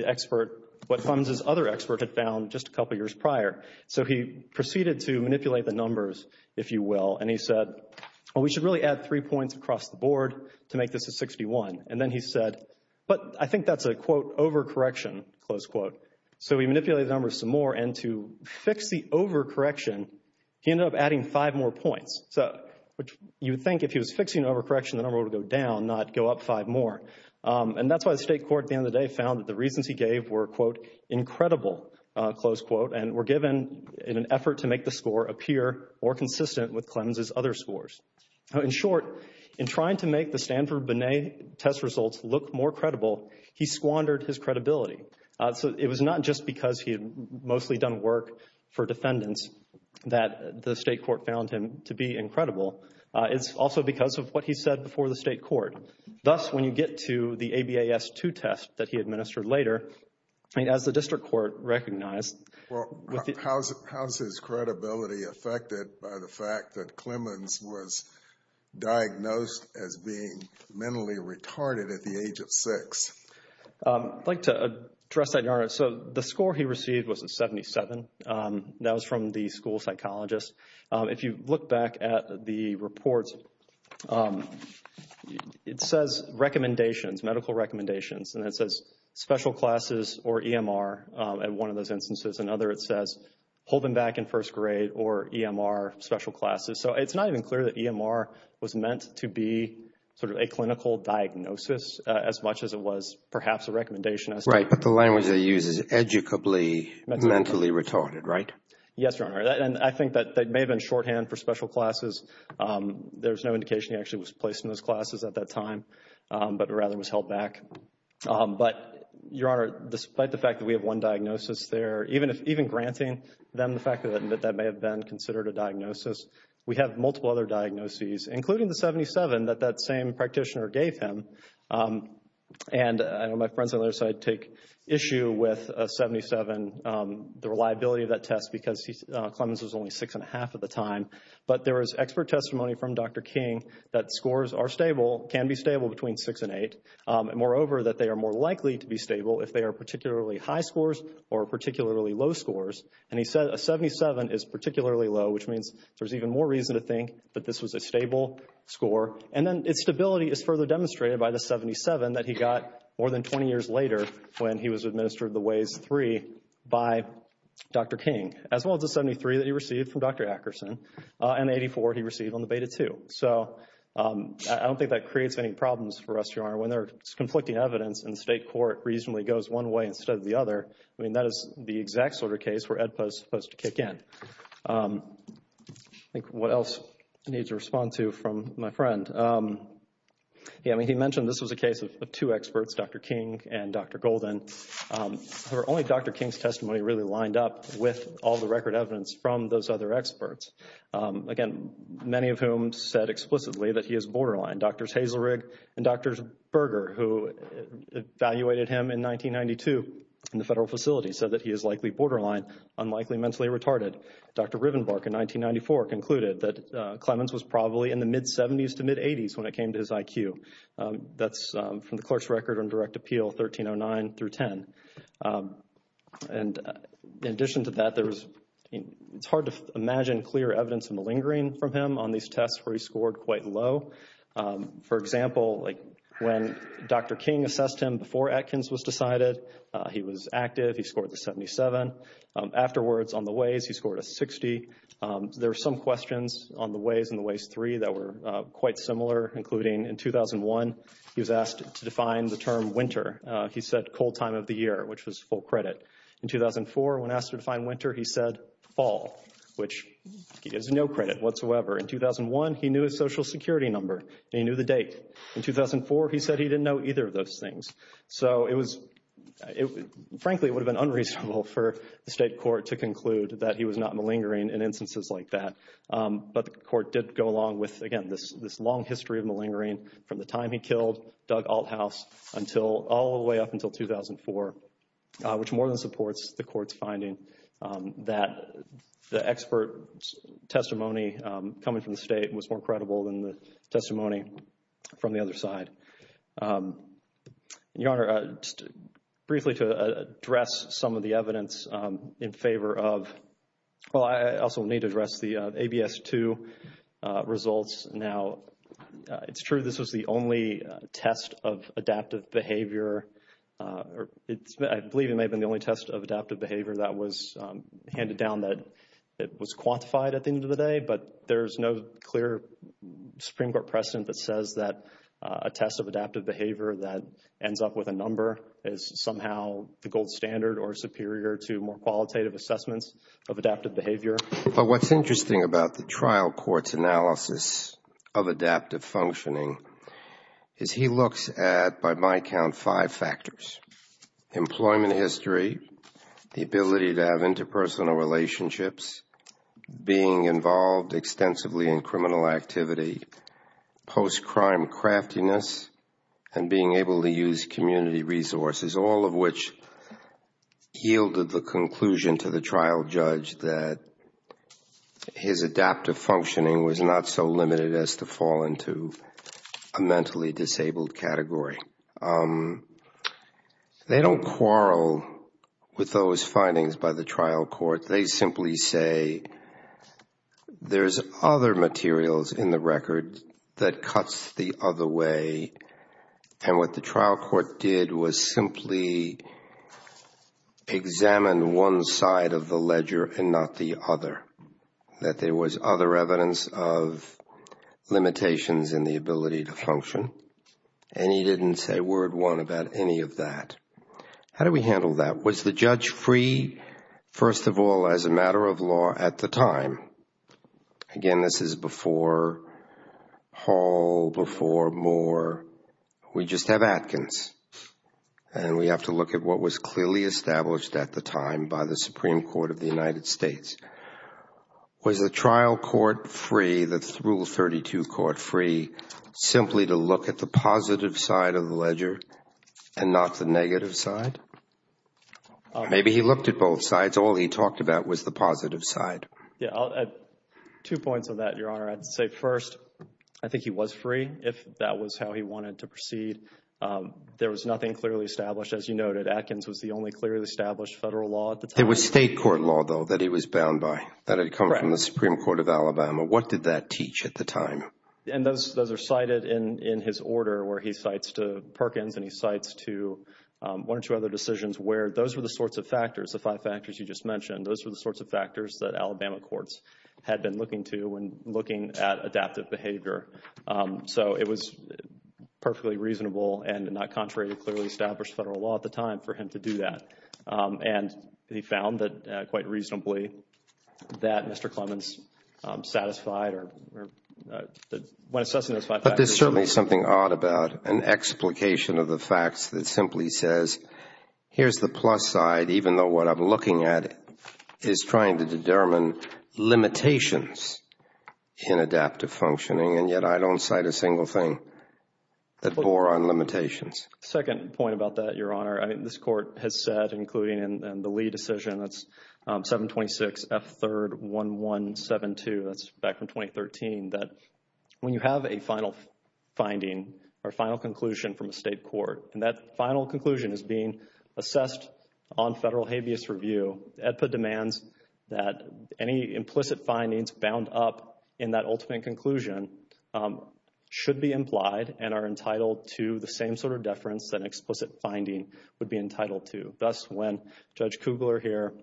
Clements' other expert had found just a couple years prior. So, he proceeded to manipulate the numbers, if you will, and he said, well, we should really add three points across the board to make this a 61. And then he said, but I think that's a quote, overcorrection, close quote. So, he manipulated the numbers some more, and to fix the overcorrection, he ended up adding five more points. So, you'd think if he was fixing overcorrection, the number would go down, not go up five more. And that's why the state court, at the end of the day, found that the reasons he gave were, quote, incredible, close quote, and were given in an effort to make the score appear more consistent with Clements' other In short, in trying to make the Stanford-Binet test results look more credible, he squandered his credibility. So, it was not just because he had mostly done work for defendants that the state court found him to be incredible. It's also because of what he said before the state court. Thus, when you get to the ABAS-2 test that he administered later, as the district court recognized… Well, how's his credibility affected by the fact that Clements was diagnosed as being mentally retarded at the age of six? I'd like to address that, Yaron. So, the score he received was a 77. That was from the school psychologist. If you look back at the reports, it says recommendations, medical recommendations, and it says special classes or EMR in one of those instances. In holding back in first grade or EMR special classes. So, it's not even clear that EMR was meant to be sort of a clinical diagnosis as much as it was perhaps a recommendation. Right. But the language they use is educably mentally retarded, right? Yes, Your Honor. And I think that they may have been shorthand for special classes. There was no indication he actually was placed in those classes at that time, but rather was held back. But, Your Honor, despite the fact that we have one diagnosis there, even granting them the fact that that may have been considered a diagnosis, we have multiple other diagnoses, including the 77 that that same practitioner gave him. And my friends on the other side take issue with 77, the reliability of that test because Clements was only six and a half at the time. But there is expert testimony from Dr. King that scores are stable, can be stable between six and eight. Moreover, that they are more low scores. And he said a 77 is particularly low, which means there's even more reason to think that this was a stable score. And then its stability is further demonstrated by the 77 that he got more than 20 years later when he was administered the WAVE-3 by Dr. King, as well as the 73 that he received from Dr. Ackerson and 84 he received on the Beta-2. So, I don't think that creates any problems for us, Your Honor. When there's conflicting evidence and the state court reasonably goes one way instead of the other, I mean, that is the exact sort of case where EDPA is supposed to kick in. I think what else I need to respond to from my friend. Yeah, I mean, he mentioned this was a case of two experts, Dr. King and Dr. Golden. However, only Dr. King's testimony really lined up with all the record evidence from those other experts. Again, many of whom said explicitly that he is borderline. Drs. Hazelrigg and Drs. Berger, who evaluated him in 1992 in the federal facility, said that he is likely borderline, unlikely mentally retarded. Dr. Rivenbark, in 1994, concluded that Clemens was probably in the mid-70s to mid-80s when it came to his IQ. That's from the clerk's record on direct appeal 1309 through 10. And in addition to that, it's hard to imagine clear evidence in the lingering from him on these tests where he scored quite low. For example, when Dr. King assessed him before Atkins was decided, he was active. He scored a 77. Afterwards, on the Ways, he scored a 60. There are some questions on the Ways and the Ways 3 that were quite similar, including in 2001, he was asked to define the term winter. He said cold time of the year, which was full credit. In 2004, when asked to define winter, he said fall, which is no credit whatsoever. In 2001, he knew his social security number. He knew the date. In 2004, he said he didn't know either of those things. So it was, frankly, it would have been unreasonable for the state court to conclude that he was not malingering in instances like that. But the court did go along with, again, this long history of malingering from the time he killed Doug Althaus until all the way up until 2004, which more than supports the court's finding that the expert testimony coming from the state was more credible than the testimony from the other side. Your Honor, briefly to address some of the evidence in favor of, well, I also need to address the ABS-2 results. Now, it's true this is the only test of adaptive behavior. I believe it may have been the only test of adaptive behavior that was handed down that it was quantified at the end of the day. But there's no clear Supreme Court precedent that says that a test of adaptive behavior that ends up with a number is somehow the gold standard or superior to more qualitative assessments of adaptive behavior. But what's interesting about the trial court's analysis of adaptive functioning is he looks at, by my count, five factors. Employment history, the ability to have interpersonal relationships, being involved extensively in criminal activity, post-crime craftiness, and being able to use his adaptive functioning was not so limited as to fall into a mentally disabled category. They don't quarrel with those findings by the trial court. They simply say, there's other materials in the record that cuts the other way. And what the trial court did was simply examine one side of the ledger and not the other, that there was other evidence of limitations in the ability to function. And he didn't say word one about any of that. How do we handle that? Was the judge free, first of all, as a matter of law at the time? Again, this is before Hall, before Moore. We just have Atkins. And we have to look at what was clearly established at the time by the Supreme Court of the United States. Was the trial court free, the Rule 32 court free, simply to look at the positive side of the ledger and not the negative side? Maybe he looked at both sides. All he talked about was the positive side. Yeah, I'll add two points on that, Your Honor. I'd say first, I think he was free if that was how he wanted to proceed. There was nothing clearly established. As you noted, Atkins was the only clearly established federal law at the time. It was state court law, though, that he was bound by. That had come from the Supreme Court of Alabama. What did that teach at the time? And those are cited in his order where he cites to Perkins and he cites to one or two other decisions where those were the sorts of factors, the five factors you just mentioned. Those were the sorts of factors that Alabama courts had been looking to when looking at adaptive behavior. So it was perfectly reasonable and not contrary to clearly established federal law at the time for him to do that. And he found that quite reasonably that Mr. Clemens satisfied or when assessing those five factors. But there's certainly something odd about an explication of the facts that simply says, here's the plus side, even though what I'm looking at is trying to determine limitations in adaptive functioning. And yet I don't cite a single thing that bore on limitations. Second point about that, Your Honor, this court has said, including in the Lee decision, that's 726F31172, that's back from 2013, that when you have a final finding or final conclusion from a state court and that final demands that any implicit findings bound up in that ultimate conclusion should be implied and are entitled to the same sort of deference that an explicit finding would be entitled to. Thus, when Judge Kugler here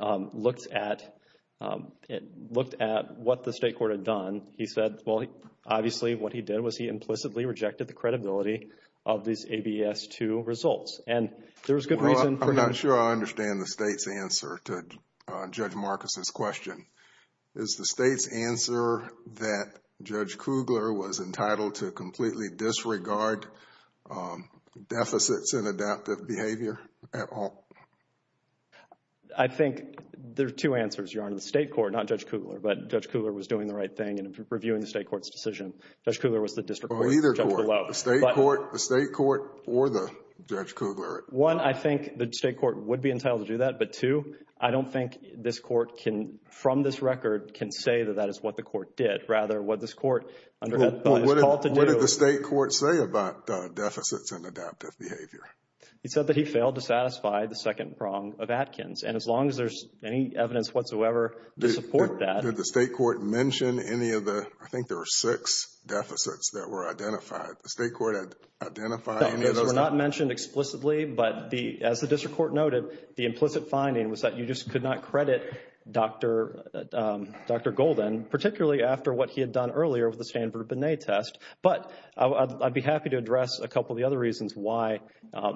looked at what the state court had done, he said, well, obviously, what he did was he implicitly rejected the credibility of these ABS2 results. And there is a question that I think is related to Judge Marcus's question. Is the state's answer that Judge Kugler was entitled to completely disregard deficits in adaptive behavior at all? I think there are two answers, Your Honor, the state court, not Judge Kugler, but Judge Kugler was doing the right thing and reviewing the state court's decision. Judge Kugler was the district court. Either court, the state court or the Judge Kugler. One, I think the state court would be entitled to do that. But two, I don't think this court can, from this record, can say that that is what the court did, rather what this court... What did the state court say about deficits in adaptive behavior? He said that he failed to satisfy the second prong of Atkins. And as long as there's any evidence whatsoever to support that... Did the state court mention any of the, I think there were six deficits that were identified. The state court had identified... They were not mentioned explicitly, but as the district court noted, the implicit finding was that you just could not credit Dr. Golden, particularly after what he had done earlier with the Stanford-Binet test. But I'd be happy to address a couple of the other reasons why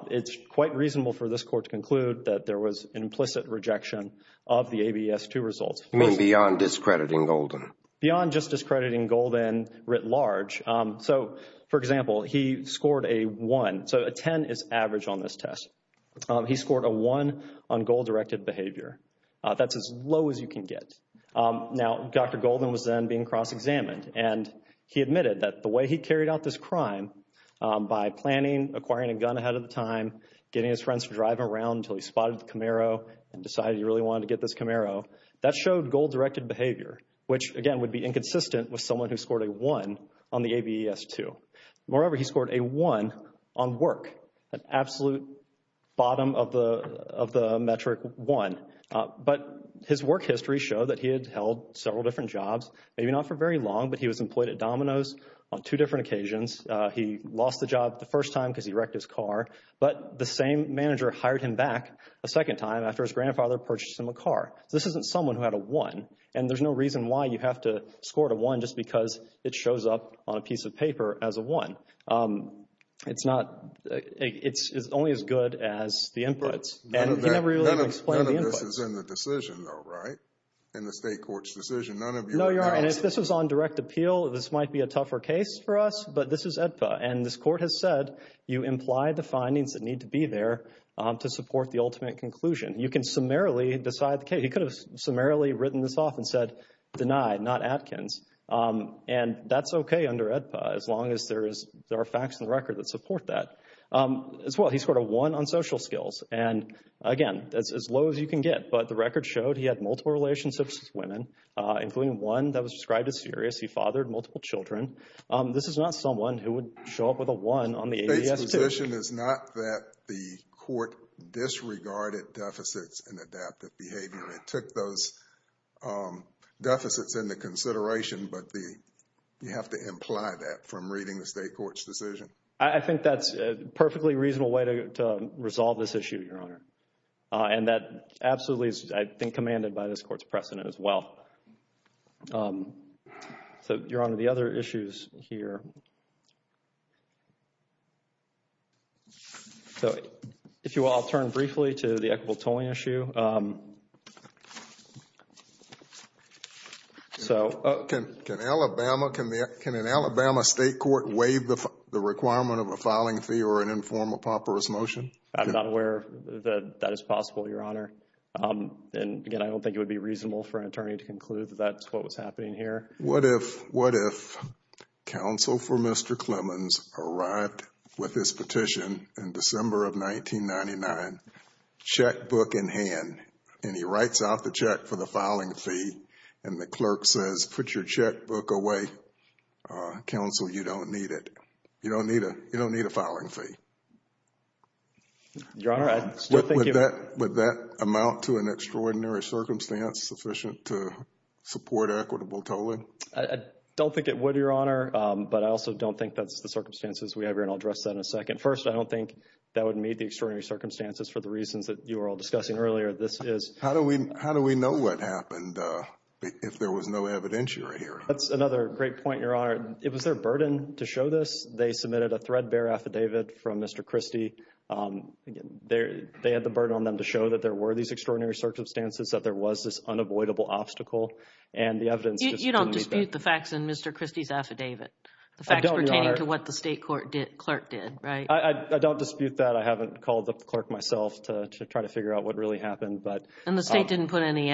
it's quite reasonable for this court to conclude that there was implicit rejection of the ABS-2 results. You mean beyond discrediting Golden? Beyond just discrediting Golden writ large. So, for example, he scored a 1. So, a 10 is average on this test. He scored a 1 on goal-directed behavior. That's as low as you can get. Now, Dr. Golden was then being cross-examined, and he admitted that the way he carried out this crime by planning, acquiring a gun ahead of the time, getting his friends to drive around until he spotted the Camaro and decided he really wanted to get this Camaro, that showed goal-directed behavior, which, again, would be inconsistent with someone who scored a 1 on the ABS-2. Moreover, he scored a 1 on work, an absolute bottom of the metric 1. But his work history showed that he had held several different jobs, maybe not for very long, but he was employed at Domino's on two different occasions. He lost the job the first time because he wrecked his car, but the same manager hired him back a second time after his grandfather purchased him a car. This isn't someone who had a 1, and there's no reason why you have to score a 1 just because it shows up on a piece of paper as a 1. It's not – it's only as good as the inputs. None of this is in the decision, though, right? In the state court's decision, none of you – No, Your Honor, and if this is on direct appeal, this might be a tougher case for us, but this is AEDPA, and this court has said you imply the findings that need to be there to support the ultimate conclusion. You can summarily decide – okay, he could have summarily written this off and said, denied, not Atkins, and that's okay under AEDPA as long as there are facts in the record that support that. As well, he scored a 1 on social skills, and again, as low as you can get, but the record showed he had multiple relationships with women, including one that was described as serious. He fathered multiple children. This is not someone who would show up with a 1 on the ABS-2. The condition is not that the court disregarded deficits in adaptive behavior. It took those deficits into consideration, but you have to imply that from reading the state court's decision. I think that's a perfectly reasonable way to resolve this issue, Your Honor, and that absolutely, I think, commanded by this court's precedent as well. So, Your Honor, the other issues here. So, if you will, I'll turn briefly to the equitable tolling issue. So – Can Alabama – can an Alabama state court waive the requirement of a filing fee or an informal paupers motion? I'm not aware that that is possible, Your Honor, and again, I don't think it would be reasonable for an attorney to conclude that that's what was happening here. What if counsel for Mr. Clemons arrived with his petition in December of 1999, checkbook in hand, and he writes out the check for the filing fee, and the clerk says, put your checkbook away, counsel, you don't need it. You don't need a filing fee. Your Honor, I'm still thinking – Would that amount to an extraordinary circumstance sufficient to support equitable tolling? I don't think it would, Your Honor, but I also don't think that's the circumstances we have here, and I'll address that in a second. First, I don't think that would meet the extraordinary circumstances for the reasons that you were all discussing earlier. This is – How do we know what happened if there was no evidentiary here? That's another great point, Your Honor. It was their burden to show this. They submitted a threadbare affidavit from Mr. Christie. Again, they had the burden on them to show that there were these extraordinary circumstances, that there was this unavoidable obstacle, and the evidence – You don't dispute the facts in Mr. Christie's affidavit, the facts pertaining to what the state clerk did, right? I don't dispute that. I haven't called the clerk myself to try to figure out what really happened, but – And the state didn't put in any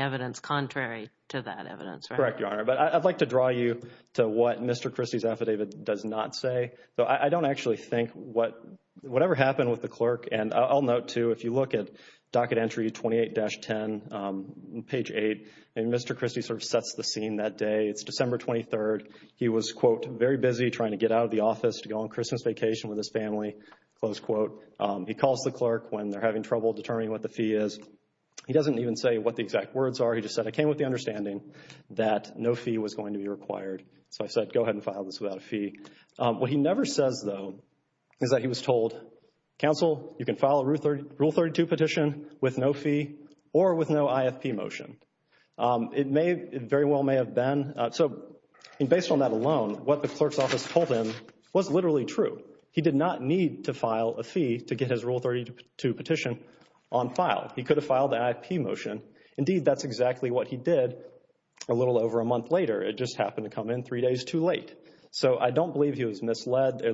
evidence contrary to that evidence, right? Correct, Your Honor, but I'd like to draw you to what Mr. Christie's affidavit does not say. So, I don't actually think whatever happened with the clerk – And I'll note, too, if you look at Docket Entry 28-10, page 8, and Mr. Christie sort of sets the scene that day. It's December 23rd. He was, quote, very busy trying to get out of the office to go on Christmas vacation with his family, close quote. He calls the clerk when they're having trouble determining what the fee is. He doesn't even say what the exact words are. He just said, I came with the understanding that no fee was going to be required. So, I said, go ahead and file this without a fee. What he never says, though, is that he was told, counsel, you can file a Rule 32 petition with no fee or with no IFP motion. It may – it very well may have been. So, based on that alone, what the clerk's office told him was literally true. He did not need to file a fee to get his Rule 32 petition on file. He could have filed an IFP motion. Indeed, that's exactly what he did a little over a month later. It just happened to come in three days too late. So, I don't believe he was misled. There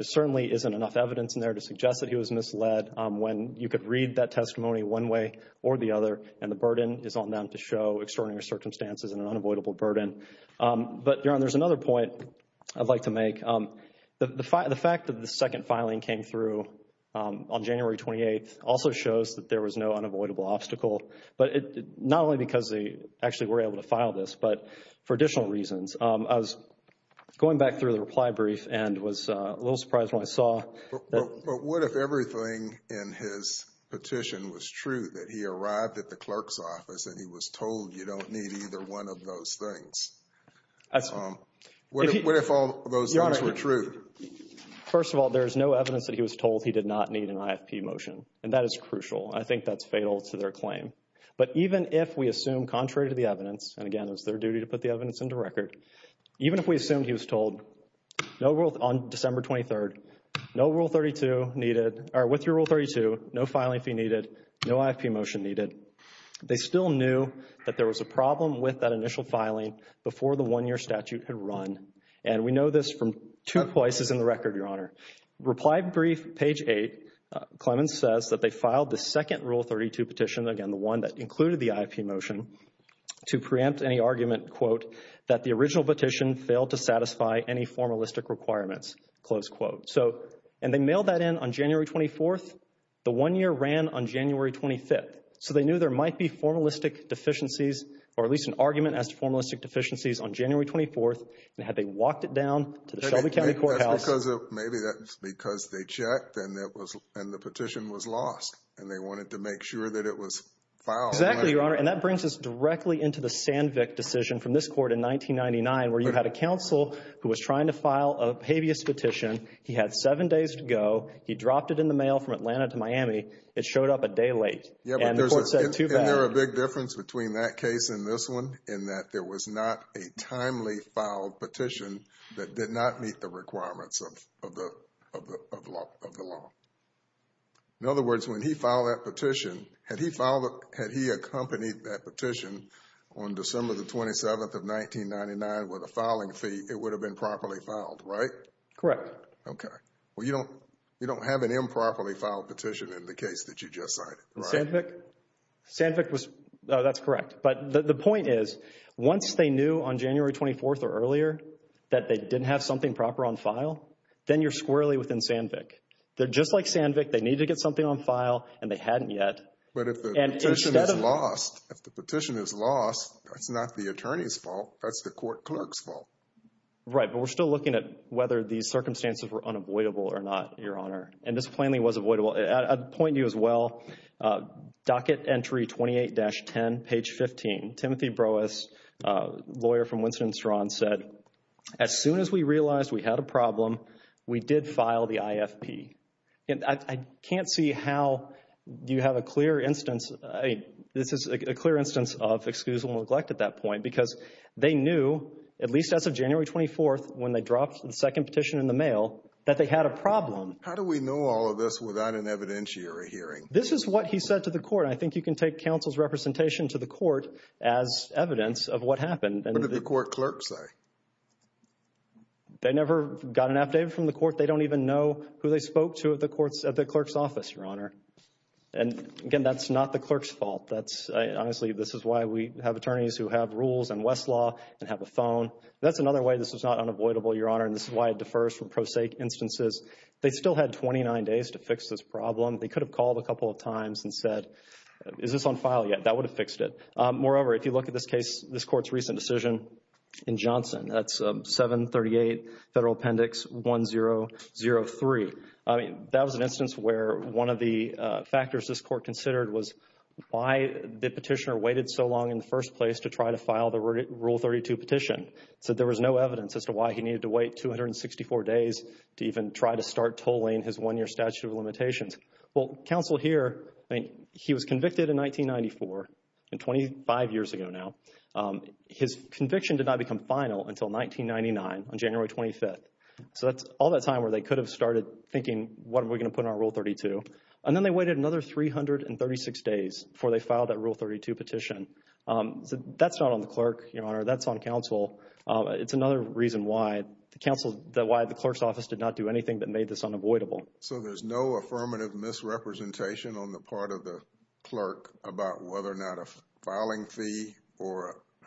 certainly isn't enough evidence in there to suggest that he was misled when you could read that testimony one way or the other, and the burden is on them to show extraordinary circumstances and an unavoidable burden. But, Jaron, there's another point I'd like to make. The fact that the second filing came through on January 28th also shows that there was no unavoidable obstacle, but not only because they actually were able to file this, but for additional reasons. Going back through the reply brief, and was a little surprised when I saw that… But what if everything in his petition was true, that he arrived at the clerk's office, that he was told you don't need either one of those things? Excellent. What if all those things were true? First of all, there is no evidence that he was told he did not need an IFP motion, and that is crucial. I think that's fatal to their claim. But even if we assume, contrary to the evidence, and again, it's their duty to put the evidence into record, even if we assume he was told, on December 23rd, no Rule 32 needed, or with your Rule 32, no filing fee needed, no IFP motion needed, they still knew that there was a problem with that initial filing before the one-year statute could run. And we know this from two places in the record, Your Honor. Reply brief, page 8, Clemens says that they filed the second Rule 32 petition, again, the one that included the IFP motion, to preempt any argument, quote, that the original petition failed to satisfy any formalistic requirements, close quote. So, and they mailed that in on January 24th. The one-year ran on January 25th. So they knew there might be formalistic deficiencies, or at least an argument as to formalistic deficiencies on January 24th, and had they walked it down to the Shelby County Courthouse. Because maybe that's because they checked and it was, and the petition was lost, and they wanted to make sure that it was filed. Exactly, Your Honor. And that brings us directly into the Sandvik decision from this court in 1999, where you had a counsel who was trying to file a habeas petition. He had seven days to go. He dropped it in the mail from Atlanta to Miami. It showed up a day late. Yeah, but there's a big difference between that case and this one, in that there was not a timely filed petition that did not meet the requirements of the law. In other words, when he filed that petition, had he accompanied that petition on December the 27th of 1999 with a filing fee, it would have been properly filed, right? Correct. Okay. Well, you don't have an improperly filed petition in the case that you just cited, right? Sandvik was, that's correct. But the point is, once they knew on January 24th or earlier that they didn't have something proper on file, then you're squarely within Sandvik. Just like Sandvik, they need to get something on file, and they hadn't yet. But if the petition is lost, that's not the attorney's fault. That's the court clerk's fault. Right. But we're still looking at whether the circumstances were unavoidable or not, Your Honor. And this claiming was avoidable. I'd point you as well, docket entry 28-10, page 15. Timothy Broas, lawyer from Winston and Strawn, said, as soon as we realized we had a problem, we did file the IFP. And I can't see how you have a clear instance. This is a clear instance of excuse and neglect at that point, because they knew, at least after January 24th, when they dropped the second petition in the mail, that they had a problem. How do we know all of this without an evidentiary hearing? This is what he said to the court. I think you can take counsel's representation to the court as evidence of what happened. They never got an update from the court. They don't even know who they spoke to at the clerk's office, Your Honor. And again, that's not the clerk's fault. Honestly, this is why we have attorneys who have rules and Westlaw and have a phone. That's another way this is not unavoidable, Your Honor. And this is why it defers from pro se instances. They still had 29 days to fix this problem. They could have called a couple of times and said, is this on file yet? That would have fixed it. Moreover, if you look at this case, this court's recent decision in Johnson, that's 738 Federal Appendix 1003. I mean, that was an instance where one of the factors this court considered was why the petitioner waited so long in the first place to try to file the Rule 32 petition. So there was no evidence as to why he needed to wait 264 days to even try to start tolling his one-year statute of limitations. Well, counsel here, he was convicted in 1994 and 25 years ago now. His conviction did not become final until 1999 on January 26th. So that's all that time where they could have started thinking, what are we going to put in our Rule 32? And then they waited another 336 days before they filed that Rule 32 petition. That's not on the clerk, Your Honor. That's on counsel. It's another reason why the clerk's office did not do anything that made this unavoidable. So there's no affirmative misrepresentation on the part of the clerk about whether or not a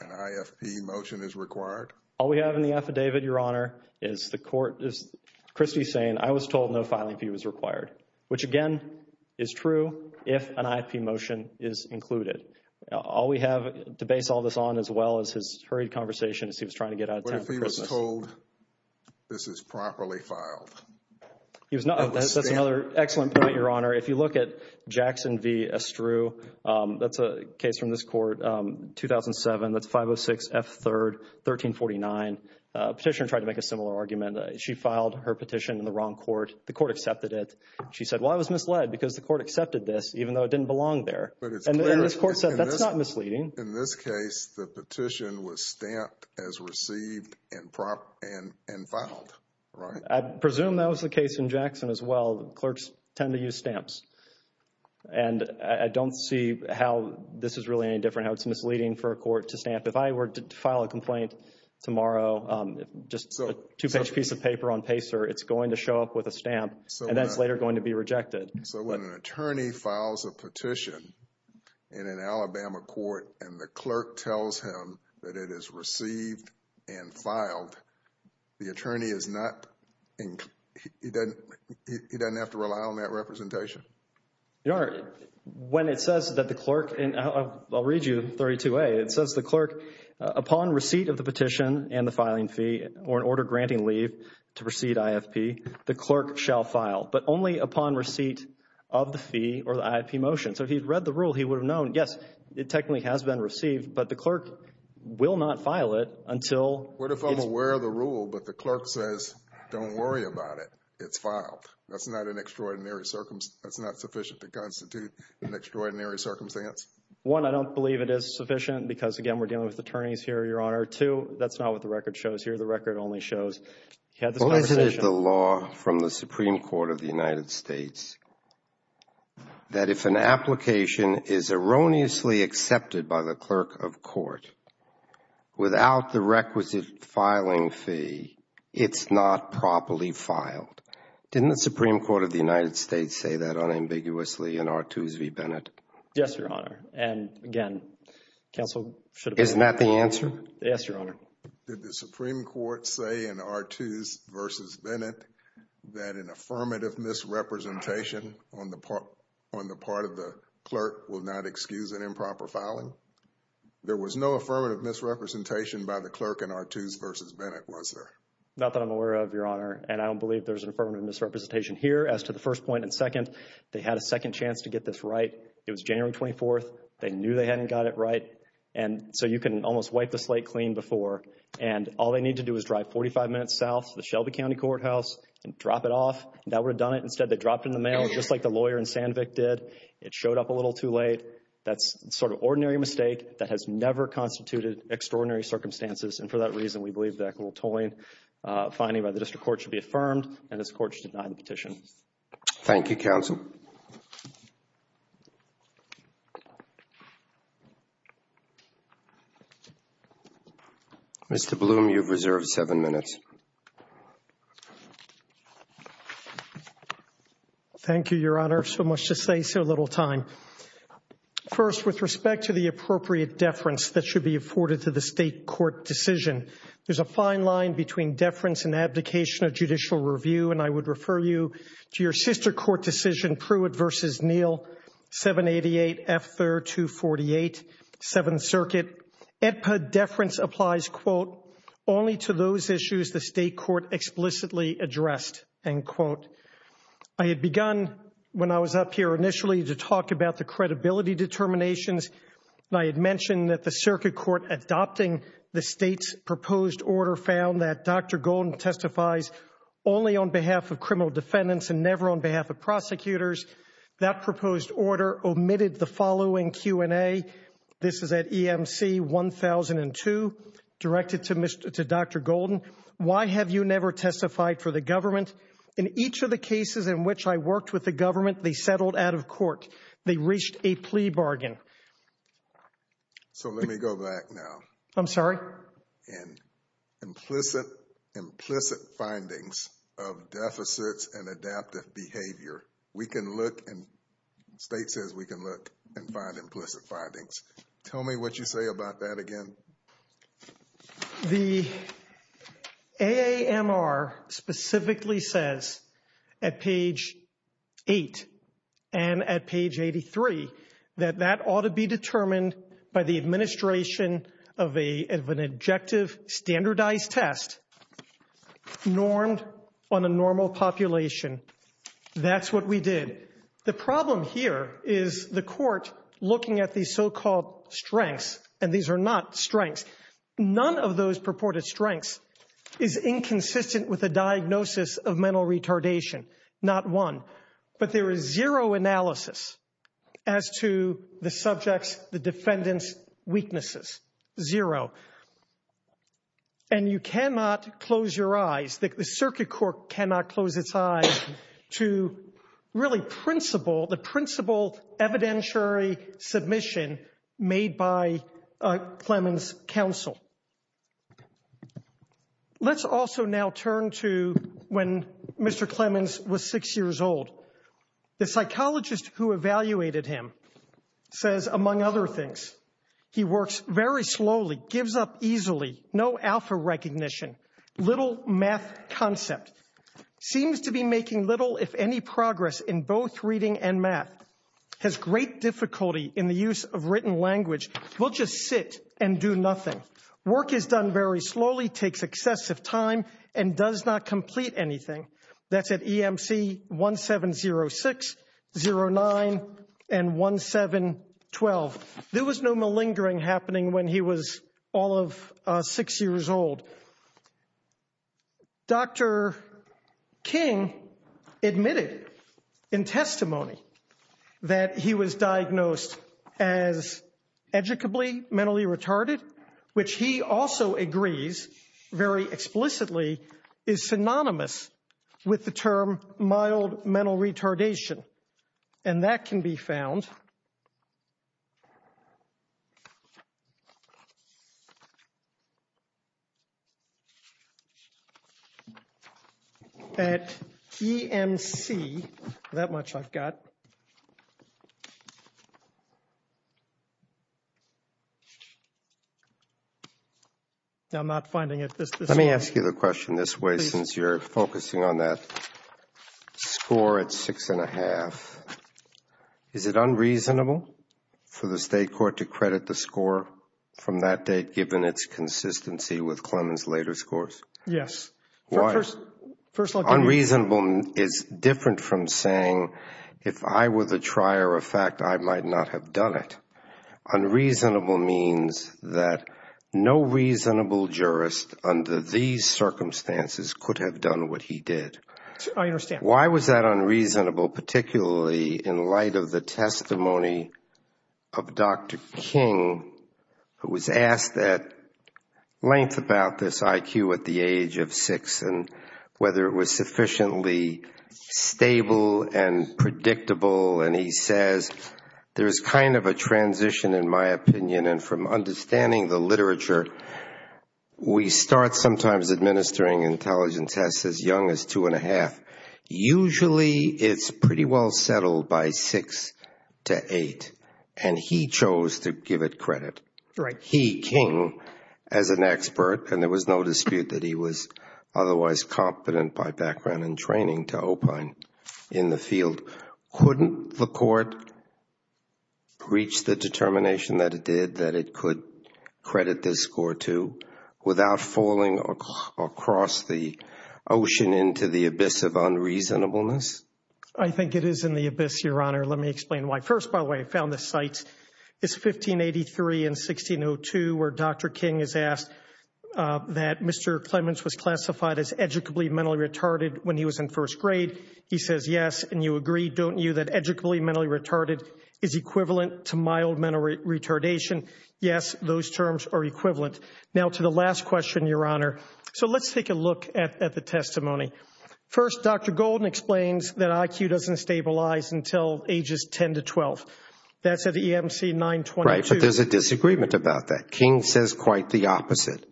IFP motion is required. All we have in the affidavit, Your Honor, is the court is, Christie's saying, I was told no filing fee was required, which again is true if an IFP motion is included. All we have to base all this on as well as his hurried conversation as he was trying to get out of town. But if he was told this is properly filed. He was not. That's another excellent point, Your Honor. If you look at Jackson v. Estru, that's a case from this court, 2007, that's 506 F. 3rd, 1349. A petitioner tried to make a similar argument. She filed her petition in the wrong court. The court accepted it. She said, well, I was misled because the court accepted this, even though it didn't belong there. And this court said, that's not misleading. In this case, the petition was stamped as received and filed, right? I presume that was the case in Jackson as well. Clerks tend to use stamps. And I don't see how this is really any different. It's misleading for a court to stamp. If I were to file a complaint tomorrow, just a two-page piece of paper on PACER, it's going to show up with a stamp and that's later going to be rejected. So when an attorney files a petition in an Alabama court and the clerk tells him that it is received and filed, the attorney is not, he doesn't have to rely on that representation? Your Honor, when it says that the clerk, I'll read you 32A. It says the clerk, upon receipt of the petition and the filing fee, or an order granting leave to proceed IFP, the clerk shall file. But only upon receipt of the fee or the IFP motion. So if he'd read the rule, he would have known, yes, it technically has been received, but the clerk will not file it until... What if I'm aware of the rule, but the clerk says, don't worry about it, it's filed. That's not an extraordinary circumstance. That's not sufficient to constitute an extraordinary circumstance. One, I don't believe it is sufficient because, again, we're dealing with attorneys here, Your Honor. Two, that's not what the record shows here. The record only shows... What is the law from the Supreme Court of the United States that if an application is erroneously accepted by the clerk of court without the requisite filing fee, it's not properly filed? Didn't the Supreme Court of the United States say that unambiguously in Artoos v. Bennett? Yes, Your Honor. And again, counsel should... Isn't that the answer? Yes, Your Honor. Did the Supreme Court say in Artoos v. Bennett that an affirmative misrepresentation on the part of the clerk will not excuse an improper filing? There was no affirmative misrepresentation by the clerk in Artoos v. Bennett, was there? Not that I'm aware of, Your Honor. And I don't believe there's an affirmative misrepresentation here as to the first point. And second, they had a second chance to get this right. It was January 24th. They knew they hadn't got it right. And so you can almost wipe the slate clean before. And all they need to do is drive 45 minutes south to the Shelby County Courthouse and drop it off. That would have done it. Instead, they dropped it in the mail just like the lawyer in Sandvik did. It showed up a little too late. That's sort of ordinary mistake that has never constituted extraordinary circumstances. And for that reason, we believe the equitable tolling finding by the district court should be affirmed. And this court should deny the petition. Thank you, counsel. Mr. Bloom, you've reserved seven minutes. Thank you, Your Honor. So much to say, so little time. First, with respect to the appropriate deference that should be afforded to the state court decision. There's a fine line between deference and abdication of judicial review. And I would refer you to your sister court decision, Pruitt v. Neal, 788 F. 3rd, 248, Seventh Circuit. Deference applies, quote, only to those issues the state court explicitly addressed, end quote. I had begun when I was up here initially to talk about the credibility determinations. I had mentioned that the circuit court adopting the state's proposed order found that Dr. Golden testifies only on behalf of criminal defendants and never on behalf of prosecutors. That proposed order omitted the following Q&A. This is at EMC 1002, directed to Dr. Golden. Why have you never testified for the government? In each of the cases in which I worked with the government, they settled out of court. They reached a plea bargain. So let me go back now. I'm sorry? In implicit findings of deficits and adaptive behavior, we can look in spaces, we can look and find implicit findings. Tell me what you say about that again. The AAMR specifically says at page 8 and at page 83 that that ought to be determined by the administration of an objective standardized test normed on a normal population. That's what we did. The problem here is the court looking at these so-called strengths, and these are not strengths. None of those purported strengths is inconsistent with a diagnosis of mental retardation. Not one. But there is zero analysis as to the subject's, the defendant's weaknesses. Zero. And you cannot close your eyes, the circuit court cannot close its eyes to really principle, evidentiary submission made by Clemens' counsel. Let's also now turn to when Mr. Clemens was six years old. The psychologist who evaluated him says, among other things, he works very slowly, gives up easily, no alpha recognition, little math concept, seems to be making little, if any, progress in both reading and math, has great difficulty in the use of written language, will just sit and do nothing. Work is done very slowly, takes excessive time, and does not complete anything. That's at EMC 170609 and 1712. There was no malingering happening when he was all of six years old. Dr. King admitted in testimony that he was diagnosed as educably mentally retarded, which he also agrees, very explicitly, is synonymous with the term mild mental retardation. And that can be found at EMC, that much I've got. Now, I'm not finding it. Let me ask you a question this way, since you're focusing on that score at six and a half. Is it unreasonable for the state court to credit the score from that date, given its consistency with Clemens' later scores? Yes. Why? Unreasonable is different from saying, if I were the trier of fact, I might not have done it. Unreasonable means that no reasonable jurist under these circumstances could have done what he did. I understand. Why was that unreasonable, particularly in light of the testimony of Dr. King, who was asked at length about this IQ at the age of six, and whether it was sufficiently stable and predictable? And he says, there's kind of a transition, in my opinion. And from understanding the literature, we start sometimes administering intelligence tests as young as two and a half. Usually, it's pretty well settled by six to eight. And he chose to give it credit. He, King, as an expert, and there was no dispute that he was otherwise competent by background and training to opine in the field, couldn't the court reach the determination that it did, that it could credit this score to, without falling across the ocean into the abyss of unreasonableness? I think it is in the abyss, Your Honor. Let me explain why. First, by the way, I found this site. It's 1583 and 1602, where Dr. King is asked that Mr. Clements was classified as educably mentally retarded when he was in first grade. He says, yes, and you agree, don't you, that educably mentally retarded is equivalent to mild mental retardation? Yes, those terms are equivalent. Now to the last question, Your Honor. So let's take a look at the testimony. First, Dr. Golden explains that IQ doesn't stabilize until ages 10 to 12. That's at EMC 922. Right, but there's a disagreement about that. King says quite the opposite.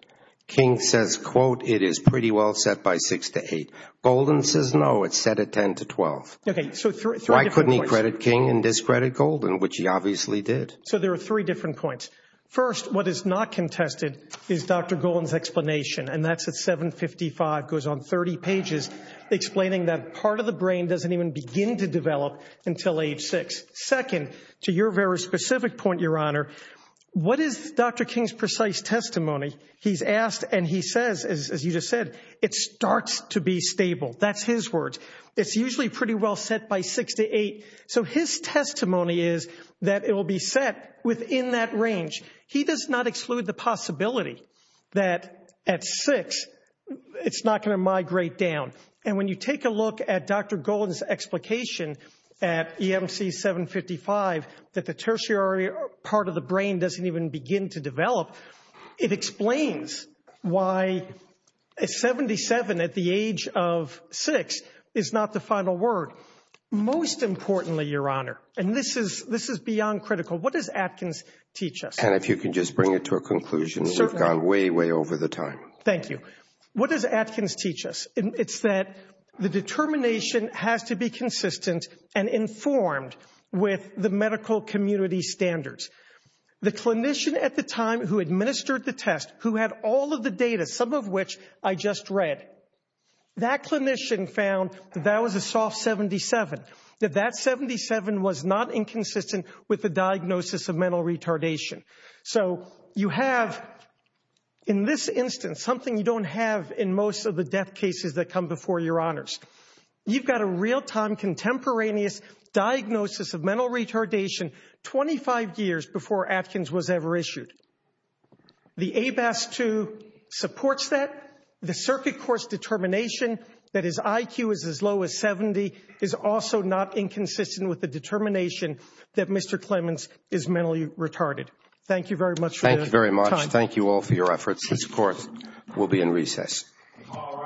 King says, quote, it is pretty well set by six to eight. Golden says, no, it's set at 10 to 12. Okay, so three different points. I couldn't credit King and discredit Golden, which he obviously did. So there are three different points. First, what is not contested is Dr. Golden's explanation, and that's at 755, goes on 30 pages, explaining that part of the brain doesn't even begin to develop until age six. Second, to your very specific point, Your Honor, what is Dr. King's precise testimony? He's asked and he says, as you just said, it starts to be stable. That's his words. It's usually pretty well set by six to eight. So his testimony is that it will be set within that range. He does not exclude the possibility that at six, it's not going to migrate down. And when you take a look at Dr. Golden's explication at EMC 755, that the tertiary part of the brain doesn't even begin to develop, it explains why 77 at the age of six is not the final word. Most importantly, Your Honor, and this is beyond critical. What does Atkins teach us? And if you can just bring it to a conclusion, we've gone way, way over the time. Thank you. What does Atkins teach us? It's that the determination has to be consistent and informed with the medical community standards. The clinician at the time who administered the test, who had all of the data, some of which I just read, that clinician found that was a soft 77, that that 77 was not inconsistent with the diagnosis of mental retardation. So you have, in this instance, something you don't have in most of the death cases that come before Your Honors. You've got a real-time contemporaneous diagnosis of mental retardation 25 years before Atkins was ever issued. The ABAS-2 supports that. The circuit court's determination that his IQ is as low as 70 is also not inconsistent with the determination that Mr. Clemens is mentally retarded. Thank you very much for your time. Thank you very much. Thank you all for your efforts. This court will be in recess. All rise.